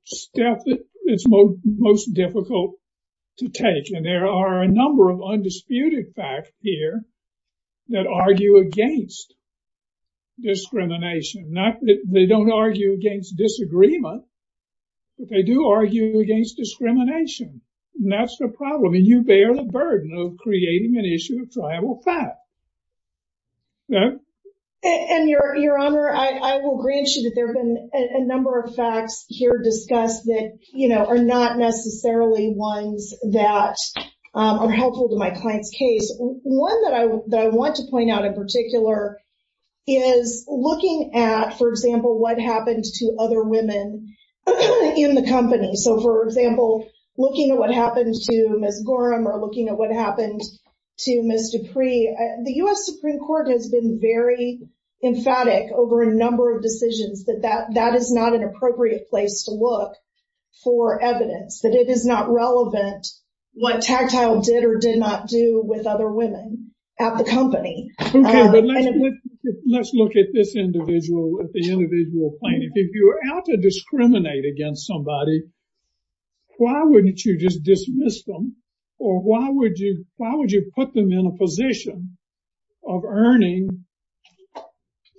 step that is most difficult to take. And there are a number of undisputed facts here that argue against discrimination. They don't argue against disagreement, but they do argue against discrimination. And that's the problem. And you bear the burden of creating an issue of triable fact. And, Your Honor, I will reassure you that there have been a number of facts here discussed that are not necessarily ones that are helpful to my client's case. One that I want to point out in particular is looking at, for example, what happens to other women in the company. So, for example, looking at what happens to Ms. Gorham or looking at what happens to Ms. Dupree, the U.S. Supreme Court has been very emphatic over a number of decisions that that is not an appropriate place to look for evidence, that it is not relevant what Tactile did or did not do with other women at the company. Let's look at this individual, at the individual plaintiff. If you're out to discriminate against somebody, why wouldn't you just dismiss them? Or why would you put them in a position of earning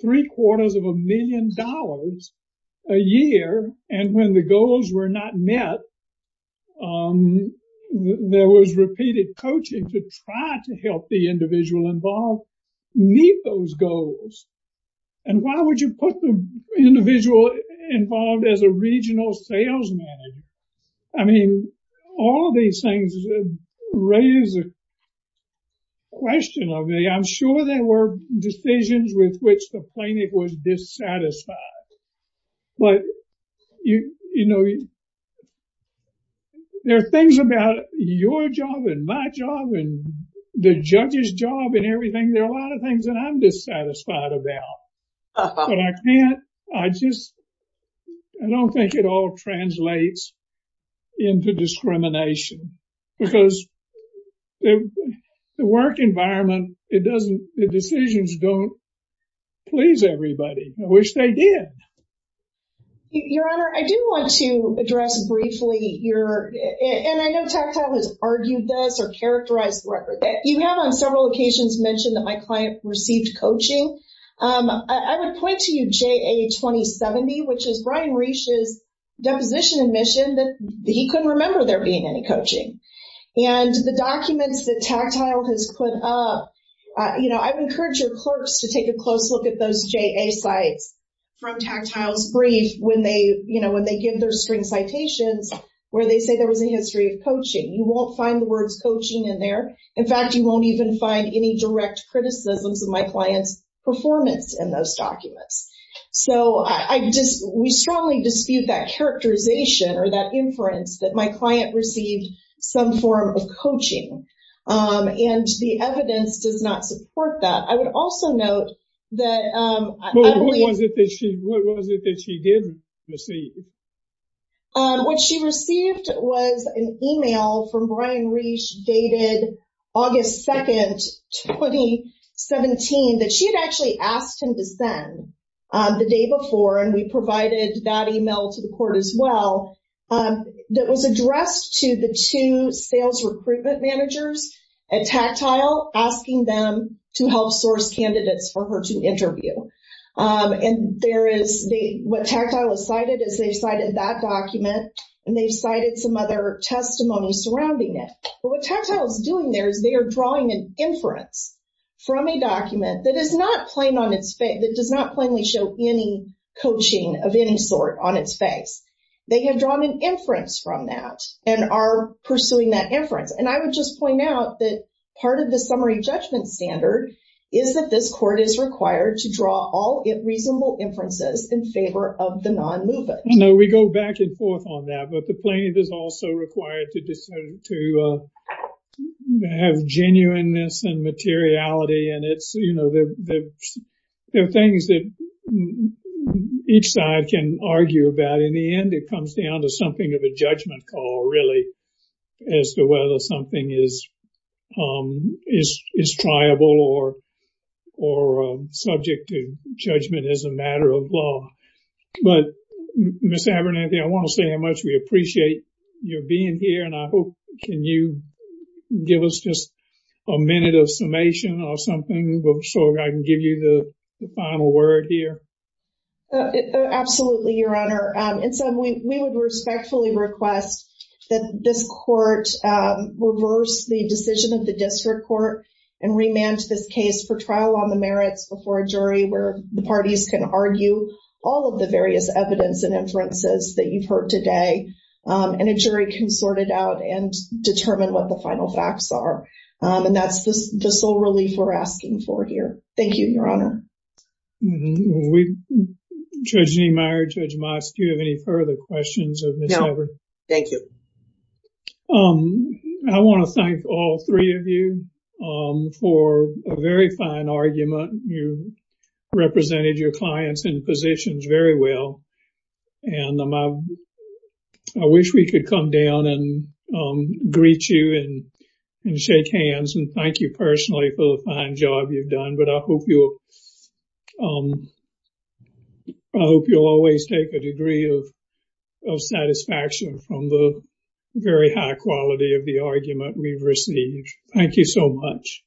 three quarters of a million dollars a year and when the goals were not met there was repeated coaching to try to help the individual involved meet those goals? And why would you put the individual involved as a regional sales manager? I mean, all these things raise a question of the, I'm sure there were decisions with which the plaintiff was dissatisfied. But, you know, there are things about your job and my job and the judge's job and everything, there are a lot of things that I'm dissatisfied about. But I can't, I just I don't think it all translates into discrimination. Because the work environment, it doesn't, the decisions don't please everybody, which they did. Your Honor, I do want to address briefly your, and I know Tactile has argued this or characterized the record. You have on several occasions mentioned that my client received coaching. I would point to you JA 2070, which is Brian Reich's deposition admission that he couldn't remember there being any coaching. And the documents that Tactile has put up, you know, I would encourage your clerks to take a close look at those JA sites from Tactile's brief when they, you know, when they give their screen citations where they say there was a history of coaching. You won't find the words coaching in there. In fact, you won't even find any direct criticisms of my client's performance in those documents. So I just, we strongly dispute that characterization or that inference that my client received some form of coaching. And the evidence does not support that. I would also note that What was it that she did receive? What she received was an email from Brian Reich dated August 2, 2017 that she had actually asked him to send the day before and we provided that email to the court as well that was addressed to the two sales recruitment managers at Tactile asking them to help source candidates for her to interview. And there is, what Tactile cited is they cited that document and they cited some other testimony surrounding it. But what Tactile is doing there is they are drawing an inference from a document that is not plain on its face that does not plainly show any coaching of any sort on its face. They have drawn an inference from that and are pursuing that inference. And I would just point out that part of the summary judgment standard is that this court is required to draw all reasonable inferences in favor of the non-movers. No, we go back and forth on that, but the plaintiff is also required to have genuineness and materiality and there are things that each side can argue about. In the end it comes down to something of a judgment call really as to whether something is triable or subject to judgment as a matter of law. But Ms. Abernathy, I want to say how much we appreciate your being here and I hope, can you give us just a minute of summation or something so I can give you the final word here? Absolutely, Your Honor. And so we would respectfully request that this court reverse the decision of the district court and remand this case for trial on the merits before a jury where the parties can argue all of the various evidence and inferences that you've heard today and a jury can sort it out and determine what the final facts are. And that's the sole relief we're asking for here. Thank you, Your Honor. Judge Niemeyer, Judge Moss, do you have any further questions? No, thank you. I want to thank all three of you for a very fine argument. You represented your clients in positions very well and I wish we could come down and greet you and shake hands and thank you personally for the fine job you've done, but I hope you'll I hope you'll always take a degree of satisfaction from the very high quality of the argument we received. Thank you so much.